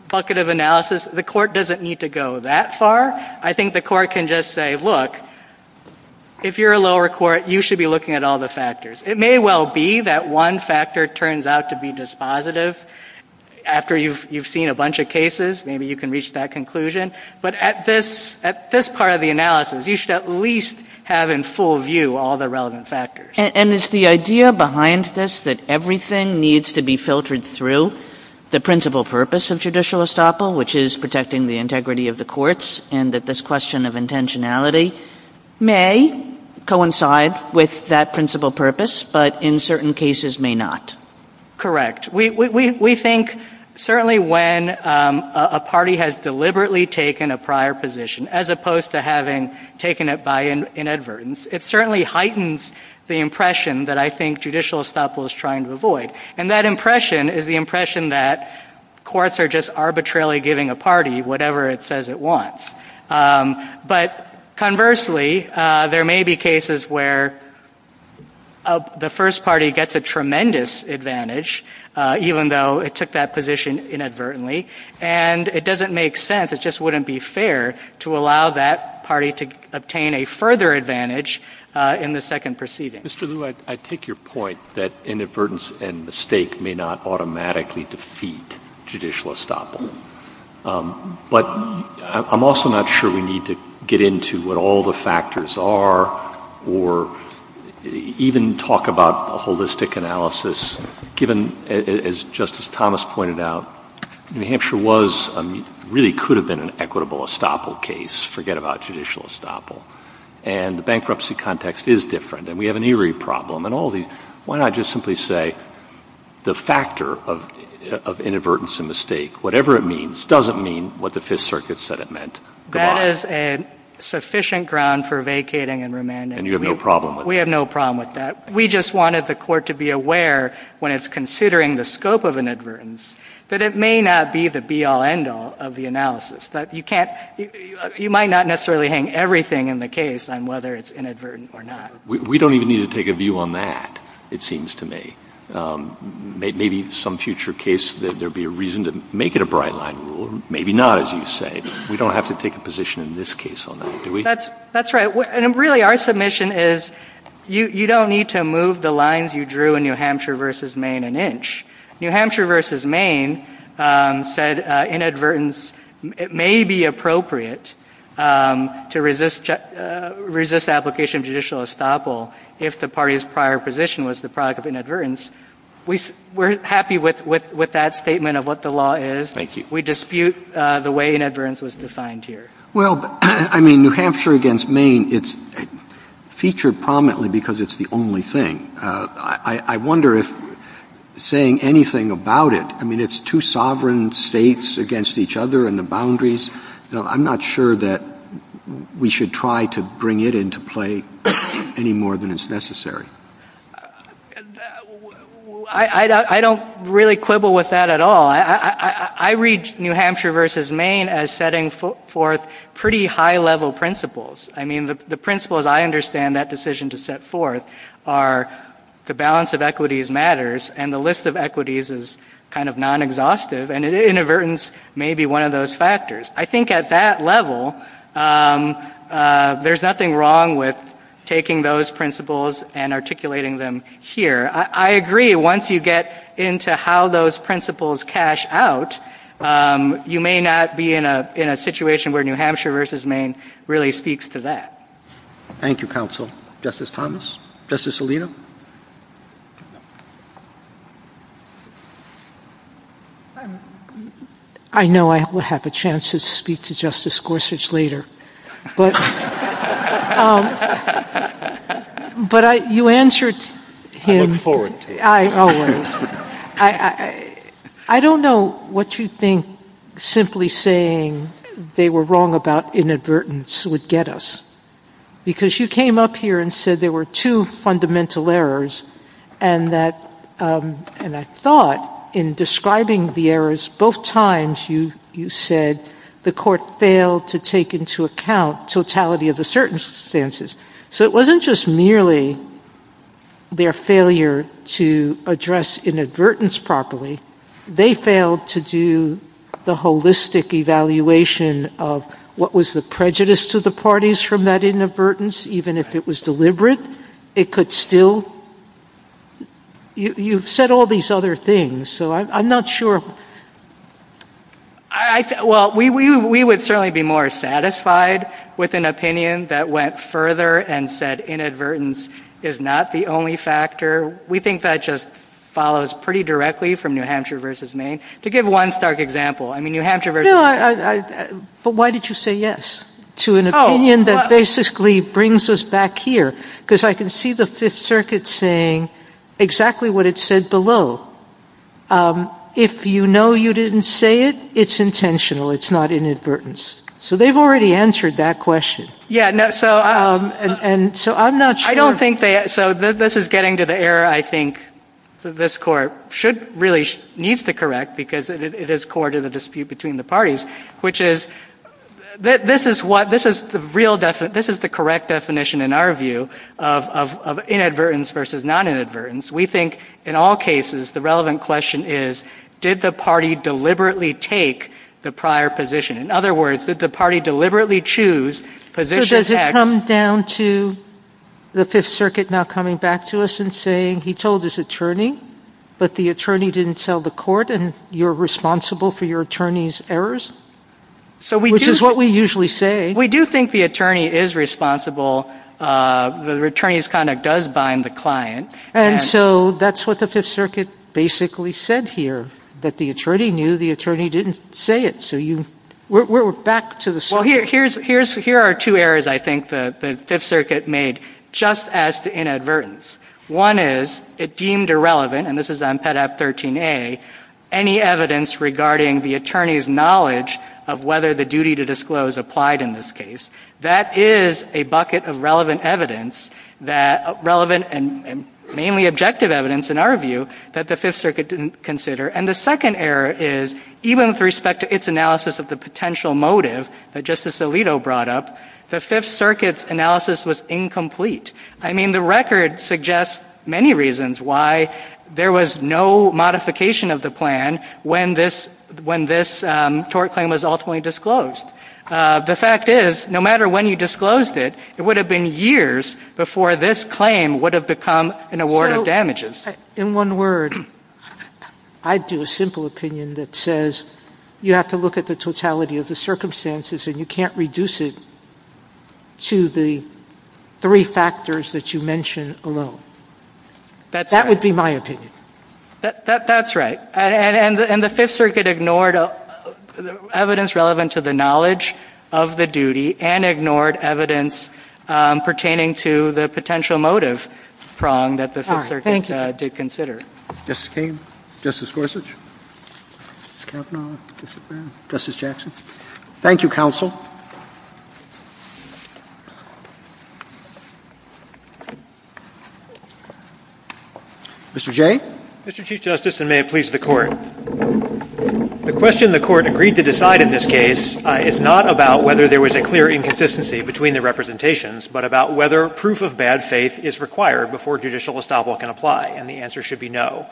bucket of analysis. The court doesn't need to go that far. I think the court can just say, look, if you're a lower court, you should be looking at all the factors. It may well be that one factor turns out to be dispositive. After you've seen a bunch of cases, maybe you can reach that conclusion. But at this part of the analysis, you should at least have in full view all the relevant factors. And is the idea behind this that everything needs to be filtered through the principal purpose of judicial estoppel, which is protecting the integrity of the courts, and that this question of intentionality may coincide with that principal purpose, but in certain cases may not? Correct. We think certainly when a party has deliberately taken a prior position as opposed to having taken it by inadvertence, it certainly heightens the impression that I think judicial estoppel is trying to avoid. And that impression is the impression that courts are just arbitrarily giving a party whatever it says it wants. But conversely, there may be cases where the first party gets a tremendous advantage, even though it took that position inadvertently, and it doesn't make sense, it just wouldn't be fair to allow that party to obtain a further advantage in the second proceeding. Mr. Lew, I take your point that inadvertence and mistake may not automatically defeat judicial estoppel. But I'm also not sure we need to get into what all the factors are or even talk about a holistic analysis, given, as Justice Thomas pointed out, New Hampshire really could have been an equitable estoppel case. Forget about judicial estoppel. And the bankruptcy context is different. And we have an Erie problem and all these. Why not just simply say the factor of inadvertence and mistake, whatever it means, doesn't mean what the Fifth Circuit said it meant. That is sufficient ground for vacating and remanding. And you have no problem with that? We have no problem with that. We just wanted the Court to be aware, when it's considering the scope of inadvertence, that it may not be the be-all, end-all of the analysis. But you might not necessarily hang everything in the case on whether it's inadvertent or not. We don't even need to take a view on that, it seems to me. Maybe some future case, there will be a reason to make it a bright-line rule. Maybe not, as you say. We don't have to take a position in this case on that, do we? That's right. Really, our submission is you don't need to move the lines you drew in New Hampshire v. Maine an inch. New Hampshire v. Maine said inadvertence may be appropriate to resist application of judicial estoppel if the party's prior position was the product of inadvertence. We're happy with that statement of what the law is. Thank you. We dispute the way inadvertence was defined here. Well, I mean, New Hampshire v. Maine, it's featured prominently because it's the only thing. I wonder if saying anything about it, I mean, it's two sovereign states against each other and the boundaries. I'm not sure that we should try to bring it into play any more than is necessary. I don't really quibble with that at all. I read New Hampshire v. Maine as setting forth pretty high-level principles. I mean, the principles I understand that decision to set forth are the balance of equities matters and the list of equities is kind of non-exhaustive and inadvertence may be one of those factors. I think at that level, there's nothing wrong with taking those principles and articulating them here. I agree, once you get into how those principles cash out, you may not be in a situation where New Hampshire v. Maine really speaks to that. Thank you, counsel. Justice Thomas? Justice Alito? I know I will have the chance to speak to Justice Gorsuch later. But you answered him. I don't know what you think simply saying they were wrong about inadvertence would get us because you came up here and said there were two fundamental errors and I thought in describing the errors, both times you said the court failed to take into account totality of the certain stances. So it wasn't just merely their failure to address inadvertence properly. They failed to do the holistic evaluation of what was the prejudice to the parties from that inadvertence, even if it was deliberate, it could still... You've said all these other things, so I'm not sure... Well, we would certainly be more satisfied with an opinion that went further and said inadvertence is not the only factor. We think that just follows pretty directly from New Hampshire v. Maine. To give one stark example, I mean, New Hampshire v. Maine... But why did you say yes to an opinion that basically brings us back here? Because I can see the Fifth Circuit saying exactly what it said below. If you know you didn't say it, it's intentional, it's not inadvertence. So they've already answered that question. Yeah, so I'm not sure... I don't think they... So this is getting to the error I think this court really needs to correct because it is core to the dispute between the parties, which is... This is the correct definition in our view of inadvertence versus non-inadvertence. We think, in all cases, the relevant question is, did the party deliberately take the prior position? In other words, did the party deliberately choose position X... So does it come down to the Fifth Circuit now coming back to us and saying, he told his attorney, but the attorney didn't sell the court and you're responsible for your attorney's errors? Which is what we usually say. We do think the attorney is responsible. The attorney's conduct does bind the client. And so that's what the Fifth Circuit basically said here, that the attorney knew the attorney didn't say it. So you... We're back to the... Well, here are two errors I think the Fifth Circuit made just as to inadvertence. One is it deemed irrelevant, and this is on Pet Act 13A, any evidence regarding the attorney's knowledge of whether the duty to disclose applied in this case. That is a bucket of relevant evidence, relevant and mainly objective evidence in our view, that the Fifth Circuit didn't consider. And the second error is, even with respect to its analysis of the potential motive that Justice Alito brought up, the Fifth Circuit's analysis was incomplete. I mean, the record suggests many reasons why there was no modification of the plan when this tort claim was ultimately disclosed. The fact is, no matter when you disclosed it, it would have been years before this claim would have become an award of damages. In one word, I'd do a simple opinion that says, you have to look at the totality of the circumstances and you can't reduce it to the three factors that you mentioned alone. That would be my opinion. That's right. And the Fifth Circuit ignored evidence relevant to the knowledge of the duty and ignored evidence pertaining to the potential motive prong that the Fifth Circuit did consider. Thank you. Justice Kagan? Justice Gorsuch? Justice Kavanaugh? Justice O'Brien? Justice Jackson? Thank you, Counsel. Mr. Jay? Mr. Chief Justice, and may it please the Court, the question the Court agreed to decide in this case is not about whether there was a clear inconsistency between the representations, but about whether proof of bad faith is required before judicial estoppel can apply. And the answer should be no.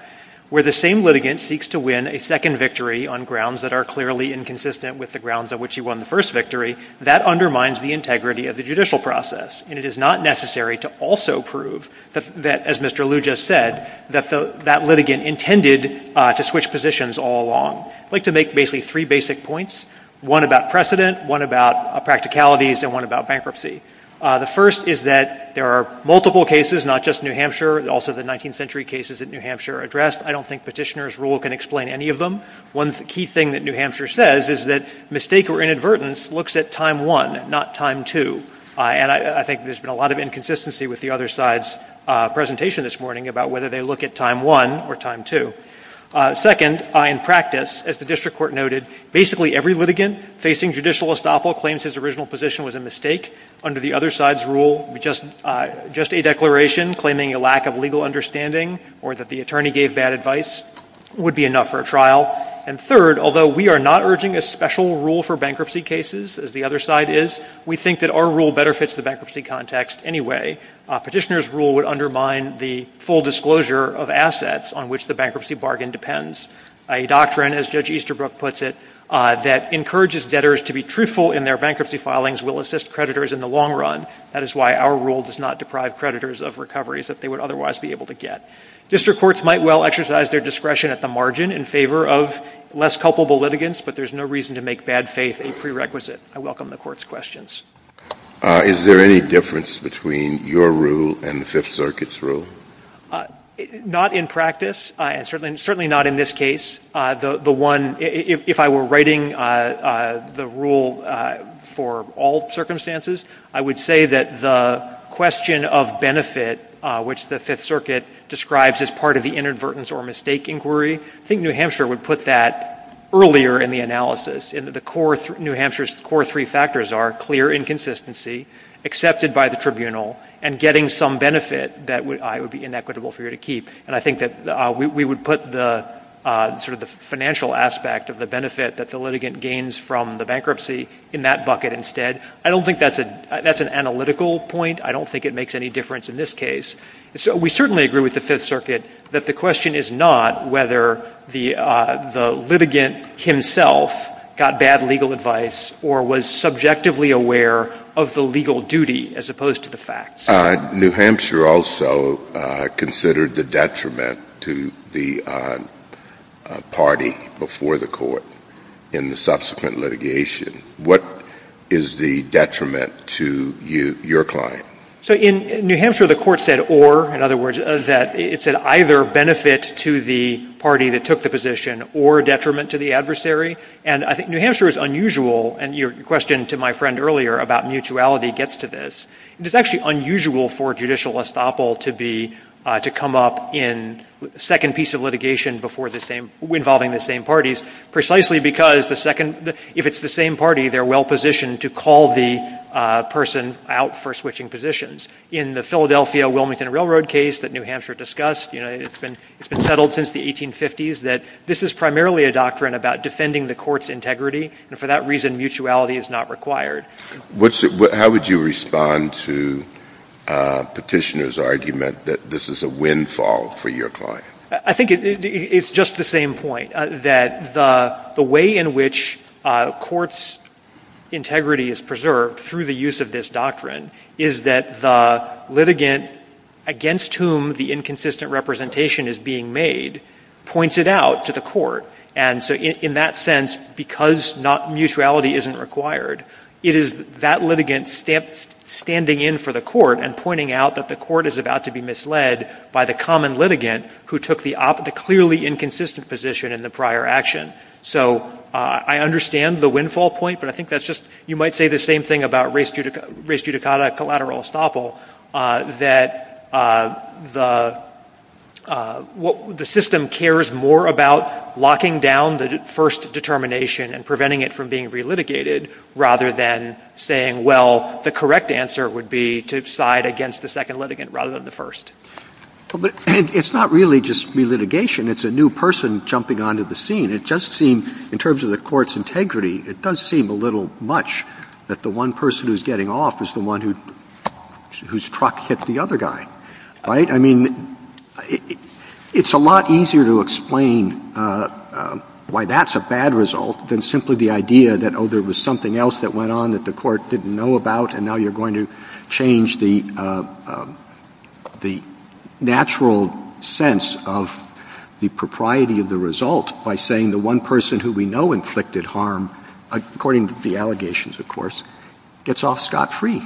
Where the same litigant seeks to win a second victory on grounds that are clearly inconsistent with the grounds on which he won the first victory, that undermines the integrity of the judicial process. And it is not necessary to also prove that, as Mr. Liu just said, that that litigant intended to switch positions all along. I'd like to make basically three basic points, one about precedent, one about practicalities, and one about bankruptcy. The first is that there are multiple cases, not just New Hampshire, also the 19th century cases that New Hampshire addressed. I don't think Petitioner's Rule can explain any of them. One key thing that New Hampshire says is that mistake or inadvertence looks at time one, not time two. And I think there's been a lot of inconsistency with the other side's presentation this morning about whether they look at time one or time two. Second, in practice, as the district court noted, basically every litigant facing judicial estoppel claims his original position was a mistake. Under the other side's rule, just a declaration claiming a lack of legal understanding or that the attorney gave bad advice would be enough for a trial. And third, although we are not urging a special rule for bankruptcy cases, as the other side is, we think that our rule better fits the bankruptcy context anyway. Petitioner's Rule would undermine the full disclosure of assets on which the bankruptcy bargain depends. A doctrine, as Judge Easterbrook puts it, that encourages debtors to be truthful in their bankruptcy filings will assist creditors in the long run. That is why our rule does not deprive creditors of recoveries that they would otherwise be able to get. District courts might well exercise their discretion at the margin in favor of less culpable litigants, but there's no reason to make bad faith a prerequisite. I welcome the Court's questions. Is there any difference between your rule and the Fifth Circuit's rule? Not in practice, certainly not in this case. The one, if I were writing the rule for all circumstances, I would say that the question of benefit, which the Fifth Circuit describes as part of the inadvertence or mistake inquiry, I think New Hampshire would put that earlier in the analysis, in that New Hampshire's core three factors are clear inconsistency, accepted by the tribunal, and getting some benefit that would be inequitable for you to keep. And I think that we would put the financial aspect of the benefit that the litigant gains from the bankruptcy in that bucket instead. I don't think that's an analytical point. I don't think it makes any difference in this case. So we certainly agree with the Fifth Circuit that the question is not whether the litigant himself got bad legal advice or was subjectively aware of the legal duty as opposed to the facts. New Hampshire also considered the detriment to the party before the court in the subsequent litigation. What is the detriment to your client? So in New Hampshire, the court said or. In other words, it said either benefit to the party that took the position or detriment to the adversary. And I think New Hampshire is unusual, and your question to my friend earlier about mutuality gets to this. It's actually unusual for judicial estoppel to come up in the second piece of litigation involving the same parties, precisely because if it's the same party, they're well-positioned to call the person out for switching positions. In the Philadelphia-Wilmington Railroad case that New Hampshire discussed, it's been settled since the 1850s that this is primarily a doctrine about defending the court's integrity, and for that reason, mutuality is not required. How would you respond to Petitioner's argument that this is a windfall for your client? I think it's just the same point, that the way in which court's integrity is preserved through the use of this doctrine is that the litigant against whom the inconsistent representation is being made points it out to the court. And so in that sense, because mutuality isn't required, it is that litigant standing in for the court and pointing out that the court is about to be misled by the common litigant who took the clearly inconsistent position in the prior action. So I understand the windfall point, but I think you might say the same thing about res judicata collateral estoppel, that the system cares more about locking down the first determination and preventing it from being re-litigated rather than saying, well, the correct answer would be to side against the second litigant rather than the first. But it's not really just re-litigation, it's a new person jumping onto the scene. It does seem, in terms of the court's integrity, it does seem a little much that the one person who's getting off is the one whose truck hit the other guy, right? I mean, it's a lot easier to explain why that's a bad result than simply the idea that, oh, there was something else that went on that the court didn't know about and now you're going to change the natural sense of the propriety of the result by saying the one person who we know inflicted harm, according to the allegations, of course, gets off scot-free.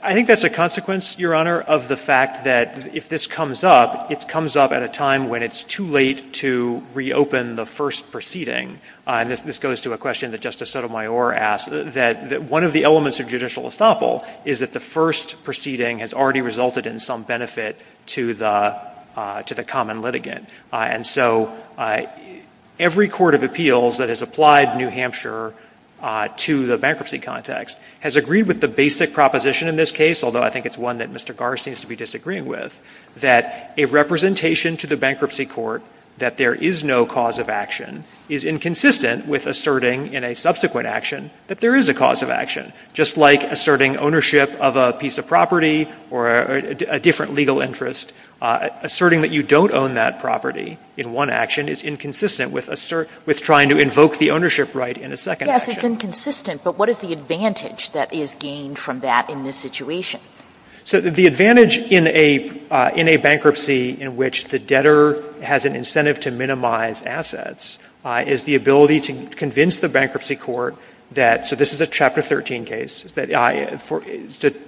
I think that's a consequence, Your Honor, of the fact that if this comes up, it comes up at a time when it's too late to reopen the first proceeding. This goes to a question that Justice Sotomayor asked, that one of the elements of judicial estoppel is that the first proceeding has already resulted in some benefit to the common litigant. And so every court of appeals that has applied New Hampshire to the bankruptcy context has agreed with the basic proposition in this case, although I think it's one that Mr. Garr seems to be disagreeing with, that a representation to the bankruptcy court that there is no cause of action is inconsistent with asserting in a subsequent action that there is a cause of action, just like asserting ownership of a piece of property or a different legal interest, asserting that you don't own that property in one action is inconsistent with trying to invoke the ownership right in a second action. Yes, it's inconsistent, but what is the advantage that is gained from that in this situation? So the advantage in a bankruptcy in which the debtor has an incentive to minimize assets is the ability to convince the bankruptcy court that, so this is a Chapter 13 case,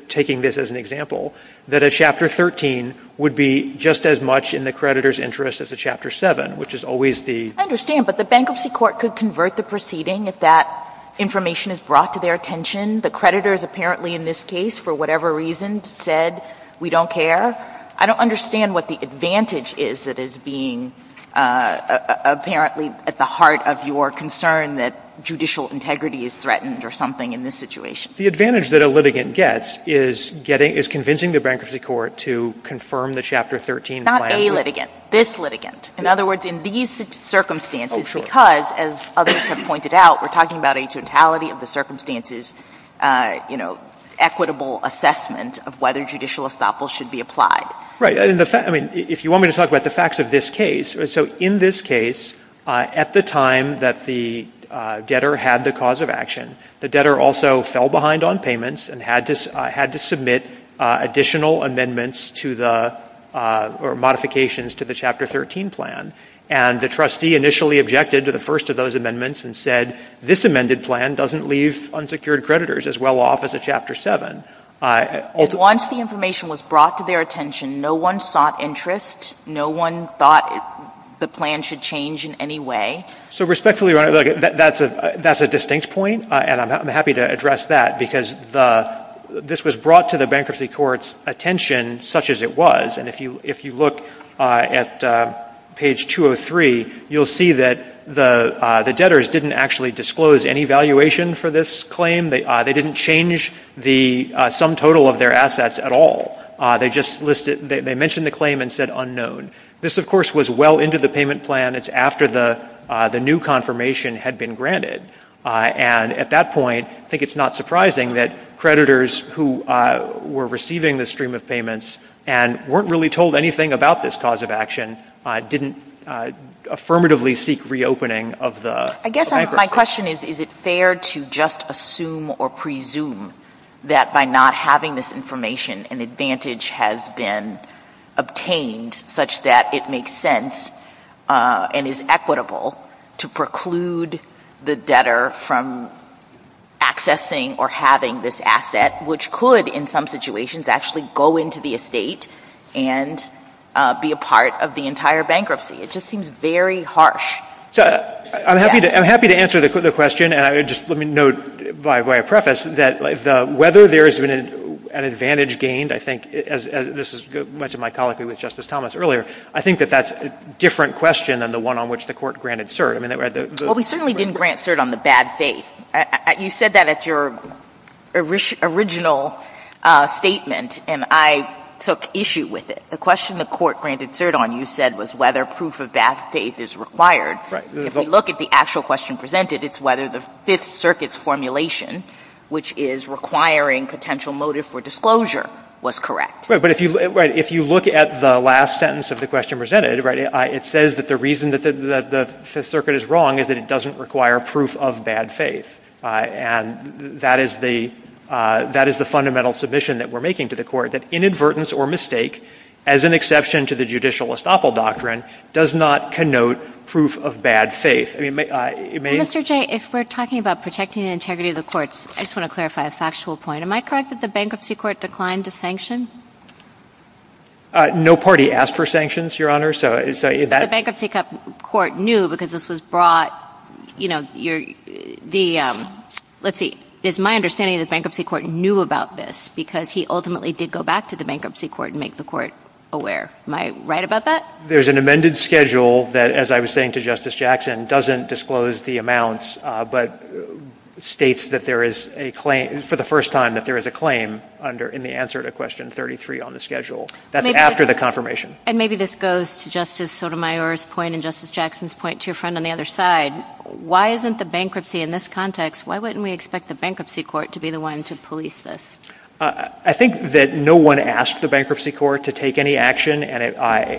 taking this as an example, that a Chapter 13 would be just as much in the creditor's interest as a Chapter 7, which is always the... I understand, but the bankruptcy court could convert the proceeding if that information is brought to their attention. The creditor is apparently in this case, for whatever reason, said we don't care. I don't understand what the advantage is that is being apparently at the heart of your concern that judicial integrity is threatened or something in this situation. The advantage that a litigant gets is convincing the bankruptcy court to confirm the Chapter 13 plan... Not a litigant, this litigant. In other words, in these circumstances, because, as others have pointed out, we're talking about a totality of the circumstances, equitable assessment of whether judicial estoppel should be applied. Right. If you want me to talk about the facts of this case, so in this case, at the time that the debtor had the cause of action, the debtor also fell behind on payments and had to submit additional amendments to the... or modifications to the Chapter 13 plan, and the trustee initially objected to the first of those amendments and said, this amended plan doesn't leave unsecured creditors as well off as a Chapter 7. Once the information was brought to their attention, no one sought interest. No one thought the plan should change in any way. So respectfully, that's a distinct point, and I'm happy to address that, because this was brought to the bankruptcy court's attention such as it was, and if you look at page 203, you'll see that the debtors didn't actually disclose any valuation for this claim. They didn't change the sum total of their assets at all. They just listed... they mentioned the claim and said unknown. This, of course, was well into the payment plan. And it's after the new confirmation had been granted. And at that point, I think it's not surprising that creditors who were receiving the stream of payments and weren't really told anything about this cause of action didn't affirmatively seek reopening of the bankruptcy. I guess my question is, is it fair to just assume or presume that by not having this information, an advantage has been obtained such that it makes sense and is equitable to preclude the debtor from accessing or having this asset, which could, in some situations, actually go into the estate and be a part of the entire bankruptcy? It just seems very harsh. I'm happy to answer the question, and just let me note by way of preface that whether there has been an advantage gained, I think, as this is much of my colloquy with Justice Thomas earlier, I think that that's a different question than the one on which the Court granted cert. Well, we certainly didn't grant cert on the bad faith. You said that at your original statement, and I took issue with it. The question the Court granted cert on, you said, was whether proof of that faith is required. If we look at the actual question presented, it's whether the Fifth Circuit's formulation, which is requiring potential motive for disclosure, was correct. Right, but if you look at the last sentence of the question presented, it says that the reason that the Fifth Circuit is wrong is that it doesn't require proof of bad faith, and that is the fundamental submission that we're making to the Court, that inadvertence or mistake, as an exception to the judicial estoppel doctrine, does not connote proof of bad faith. Mr. Jay, if we're talking about protecting the integrity of the courts, I just want to clarify a factual point. Am I correct that the Bankruptcy Court declined to sanction? No party asked for sanctions, Your Honor. The Bankruptcy Court knew because this was brought, you know, let's see, it's my understanding the Bankruptcy Court knew about this because he ultimately did go back to the Bankruptcy Court and make the Court aware. Am I right about that? There's an amended schedule that, as I was saying to Justice Jackson, doesn't disclose the amounts but states that there is a claim, for the first time that there is a claim in the answer to question 33 on the schedule. That's after the confirmation. And maybe this goes to Justice Sotomayor's point and Justice Jackson's point, to your friend on the other side. Why isn't the Bankruptcy, in this context, why wouldn't we expect the Bankruptcy Court to be the one to police this? I think that no one asked the Bankruptcy Court to take any action, and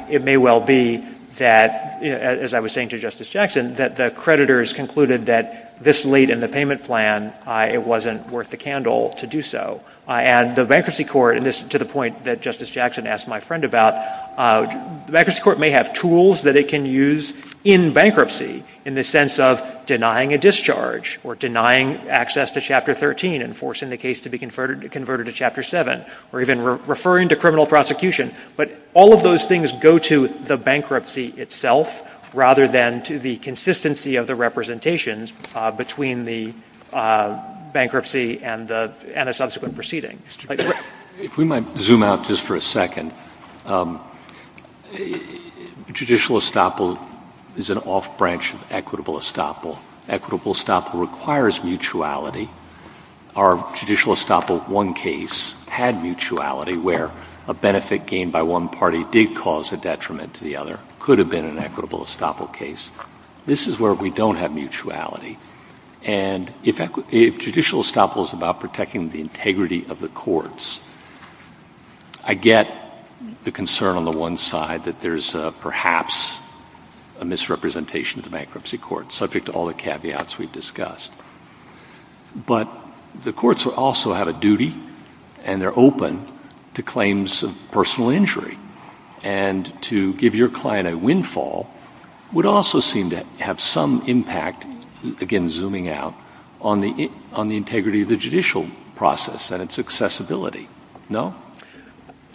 it may well be that, as I was saying to Justice Jackson, that the creditors concluded that this late in the payment plan, it wasn't worth the candle to do so. And the Bankruptcy Court, and this is to the point that Justice Jackson asked my friend about, the Bankruptcy Court may have tools that it can use in bankruptcy, in the sense of denying a discharge or denying access to Chapter 13 and forcing the case to be converted to Chapter 7 or even referring to criminal prosecution. But all of those things go to the bankruptcy itself rather than to the consistency of the representations between the bankruptcy and a subsequent proceeding. If we might zoom out just for a second, judicial estoppel is an off-branch of equitable estoppel. Equitable estoppel requires mutuality. Our judicial estoppel I case had mutuality where a benefit gained by one party did cause a detriment to the other. It could have been an equitable estoppel case. This is where we don't have mutuality. And if judicial estoppel is about protecting the integrity of the courts, I get the concern on the one side that there's perhaps a misrepresentation of the Bankruptcy Court, subject to all the caveats we've discussed. But the courts also have a duty, and they're open to claims of personal injury. And to give your client a windfall would also seem to have some impact, again zooming out, on the integrity of the judicial process and its accessibility. No?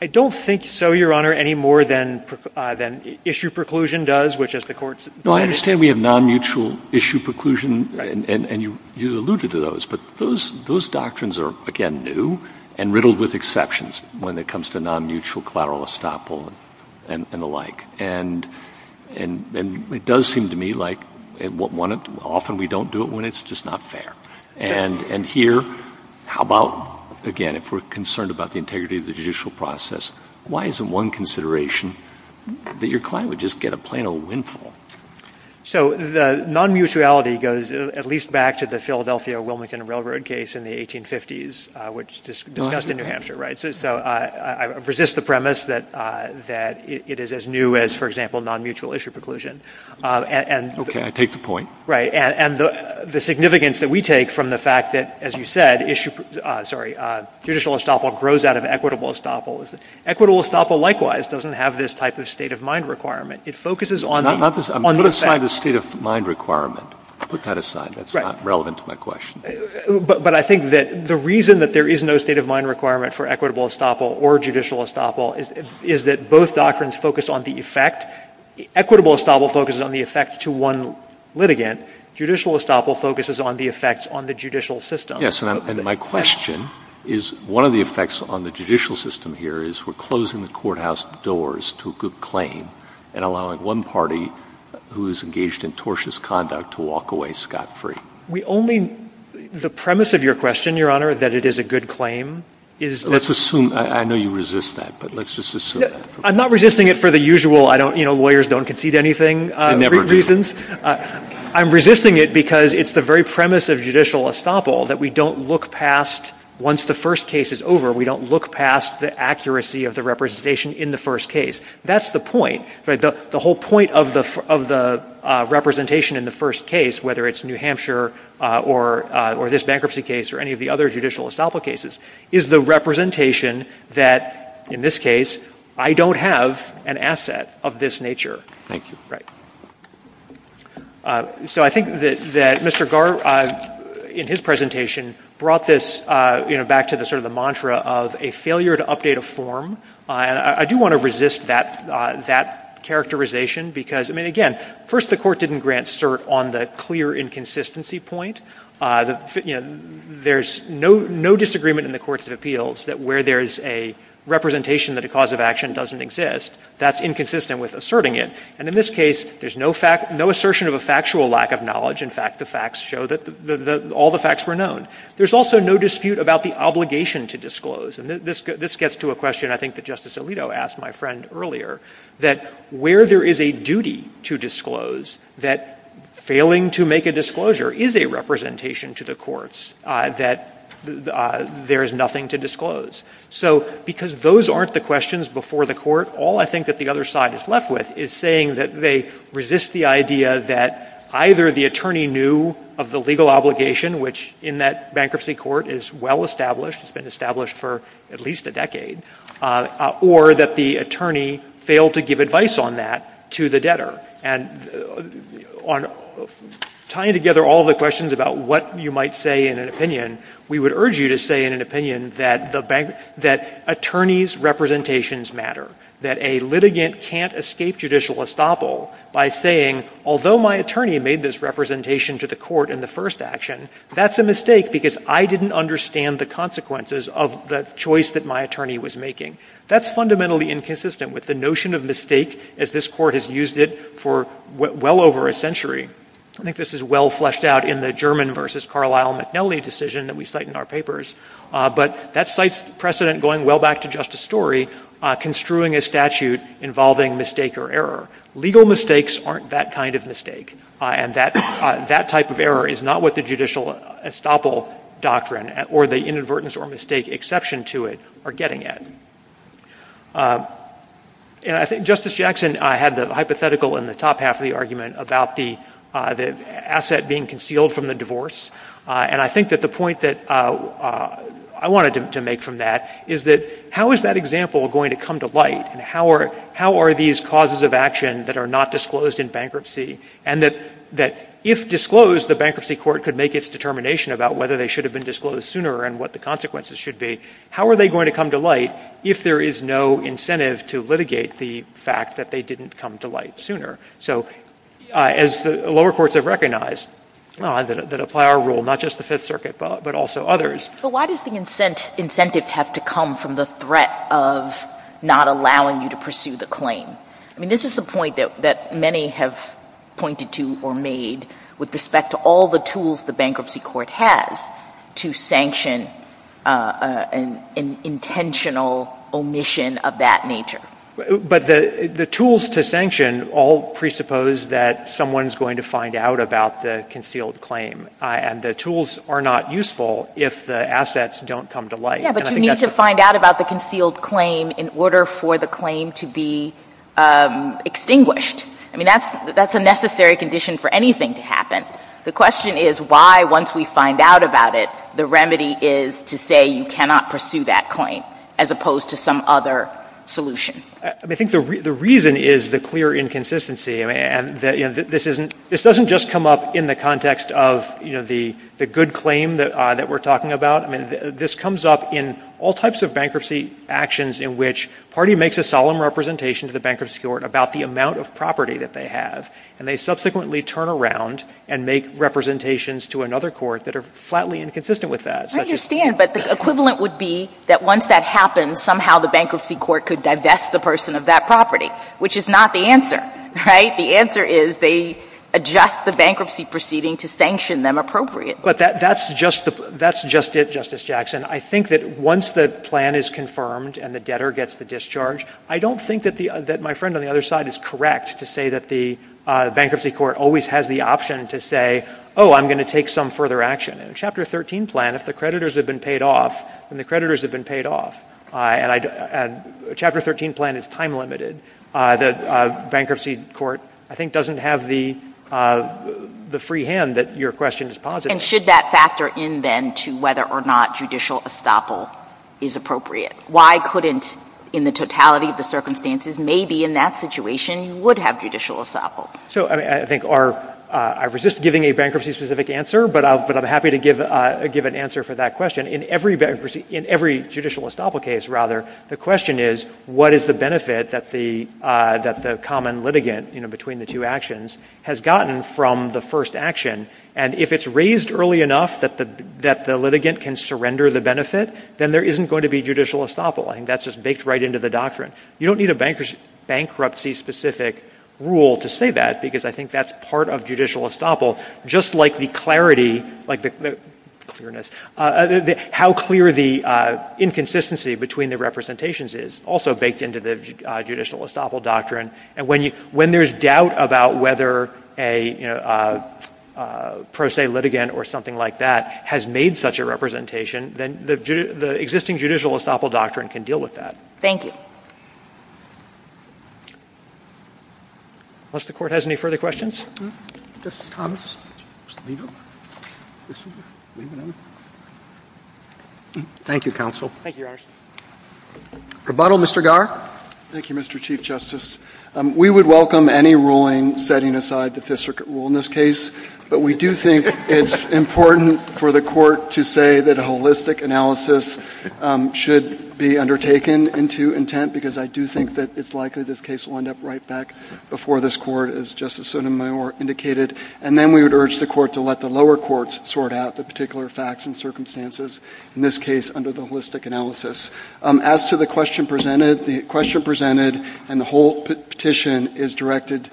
I don't think so, Your Honor, any more than issue preclusion does. I understand we have non-mutual issue preclusion, and you alluded to those. But those doctrines are, again, new and riddled with exceptions when it comes to non-mutual collateral estoppel and the like. And it does seem to me like often we don't do it when it's just not fair. And here, how about, again, if we're concerned about the integrity of the judicial process, why is it one consideration that your client would just get a plain old windfall? So the non-mutuality goes at least back to the Philadelphia Wilmington Railroad case in the 1850s, which discussed in New Hampshire, right? So I resist the premise that it is as new as, for example, non-mutual issue preclusion. Okay, I take the point. Right. And the significance that we take from the fact that, as you said, judicial estoppel grows out of equitable estoppel. Equitable estoppel, likewise, doesn't have this type of state of mind requirement. It focuses on the effect. I'm putting aside the state of mind requirement. I put that aside. That's not relevant to my question. But I think that the reason that there is no state of mind requirement for equitable estoppel or judicial estoppel is that both doctrines focus on the effect. Equitable estoppel focuses on the effect to one litigant. Judicial estoppel focuses on the effects on the judicial system. Yes, and my question is one of the effects on the judicial system here is we're closing the courthouse doors to a good claim. And allowing one party who is engaged in tortious conduct to walk away scot-free. The premise of your question, Your Honor, is that it is a good claim. Let's assume. I know you resist that, but let's just assume that. I'm not resisting it for the usual lawyers don't concede anything reasons. I'm resisting it because it's the very premise of judicial estoppel that we don't look past, once the first case is over, we don't look past the accuracy of the representation in the first case. That's the point. The whole point of the representation in the first case, whether it's New Hampshire or this bankruptcy case or any of the other judicial estoppel cases, is the representation that, in this case, I don't have an asset of this nature. Thank you. Right. So I think that Mr. Garr, in his presentation, brought this back to sort of the mantra of a failure to update a form. I do want to resist that characterization because, I mean, again, first the court didn't grant cert on the clear inconsistency point. There's no disagreement in the courts of appeals that where there's a representation that a cause of action doesn't exist, that's inconsistent with asserting it. And in this case, there's no assertion of a factual lack of knowledge. In fact, the facts show that all the facts were known. There's also no dispute about the obligation to disclose. And this gets to a question I think that Justice Alito asked my friend earlier, that where there is a duty to disclose, that failing to make a disclosure is a representation to the courts that there is nothing to disclose. So because those aren't the questions before the court, all I think that the other side is left with is saying that they resist the idea that either the attorney knew of the legal obligation, which in that bankruptcy court is well established, it's been established for at least a decade, or that the attorney failed to give advice on that to the debtor. And tying together all the questions about what you might say in an opinion, we would urge you to say in an opinion that attorneys' representations matter, that a litigant can't escape judicial estoppel by saying, although my attorney made this representation to the court in the first action, that's a mistake because I didn't understand the consequences of the choice that my attorney was making. That's fundamentally inconsistent with the notion of mistake as this court has used it for well over a century. I think this is well fleshed out in the German v. Carlisle McNelly decision that we cite in our papers. But that cites precedent going well back to Justice Story, construing a statute involving mistake or error. Legal mistakes aren't that kind of mistake. And that type of error is not what the judicial estoppel doctrine or the inadvertence or mistake exception to it are getting at. Justice Jackson had the hypothetical in the top half of the argument about the asset being concealed from the divorce. And I think that the point that I wanted to make from that is that how is that example going to come to light? How are these causes of action that are not disclosed in bankruptcy and that if disclosed, the bankruptcy court could make its determination about whether they should have been disclosed sooner and what the consequences should be. How are they going to come to light if there is no incentive to litigate the fact that they didn't come to light sooner? So as the lower courts have recognized that apply our rule, not just the Fifth Circuit but also others. So why do you think incentives have to come from the threat of not allowing you to pursue the claim? I mean, this is a point that many have pointed to or made with respect to all the tools the bankruptcy court has to sanction an intentional omission of that nature. But the tools to sanction all presuppose that someone is going to find out about the concealed claim. And the tools are not useful if the assets don't come to light. Yes, but you need to find out about the concealed claim in order for the claim to be extinguished. I mean, that's a necessary condition for anything to happen. The question is why once we find out about it, the remedy is to say you cannot pursue that claim as opposed to some other solution. I think the reason is the clear inconsistency. This doesn't just come up in the context of the good claim that we're talking about. This comes up in all types of bankruptcy actions in which a party makes a solemn representation to the bankruptcy court about the amount of property that they have, and they subsequently turn around and make representations to another court that are flatly inconsistent with that. I understand, but the equivalent would be that once that happens, somehow the bankruptcy court could divest the person of that property, which is not the answer. The answer is they adjust the bankruptcy proceeding to sanction them appropriately. But that's just it, Justice Jackson. I think that once the plan is confirmed and the debtor gets the discharge, I don't think that my friend on the other side is correct to say that the bankruptcy court always has the option to say, oh, I'm going to take some further action. In Chapter 13 plan, if the creditors have been paid off, and the creditors have been paid off, and Chapter 13 plan is time-limited, the bankruptcy court I think doesn't have the free hand And should that factor in, then, to whether or not judicial estoppel is appropriate? Why couldn't, in the totality of the circumstances, maybe in that situation you would have judicial estoppel? I resist giving a bankruptcy-specific answer, but I'm happy to give an answer for that question. In every judicial estoppel case, rather, the question is what is the benefit that the common litigant between the two actions has gotten from the first action? And if it's raised early enough that the litigant can surrender the benefit, then there isn't going to be judicial estoppel. I think that's just baked right into the doctrine. You don't need a bankruptcy-specific rule to say that, because I think that's part of judicial estoppel. Just like the clarity, how clear the inconsistency between the representations is, also baked into the judicial estoppel doctrine. And when there's doubt about whether, you know, a pro se litigant or something like that has made such a representation, then the existing judicial estoppel doctrine can deal with that. Thank you. Unless the Court has any further questions? Mr. Thomas? Thank you, counsel. Thank you, Ashley. Rebuttal, Mr. Garr? Thank you, Mr. Chief Justice. We would welcome any ruling setting aside the Fifth Circuit rule in this case, but we do think it's important for the Court to say that a holistic analysis should be undertaken into intent, because I do think that it's likely this case will end up right back before this Court, as Justice Sotomayor indicated. And then we would urge the Court to let the lower courts sort out the particular facts and circumstances, in this case under the holistic analysis. As to the question presented, the question presented and the whole petition is directed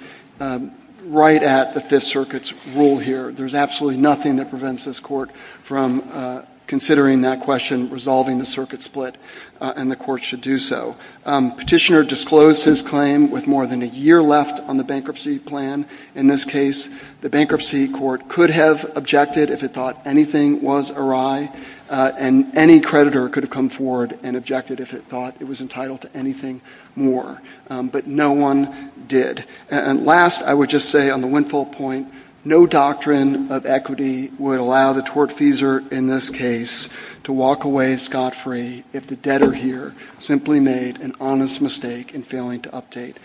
right at the Fifth Circuit's rule here. There's absolutely nothing that prevents this Court from considering that question, resolving the circuit split, and the Court should do so. Petitioner disclosed his claim with more than a year left on the bankruptcy plan. In this case, the bankruptcy Court could have objected if it thought anything was awry, and any creditor could have come forward and objected if it thought it was entitled to anything more. But no one did. And last, I would just say on the windfall point, no doctrine of equity would allow the tortfeasor in this case to walk away scot-free if the debtor here simply made an honest mistake in failing to update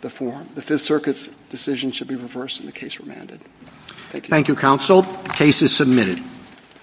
the form. The Fifth Circuit's decision should be reversed and the case remanded. Thank you, counsel. The case is submitted.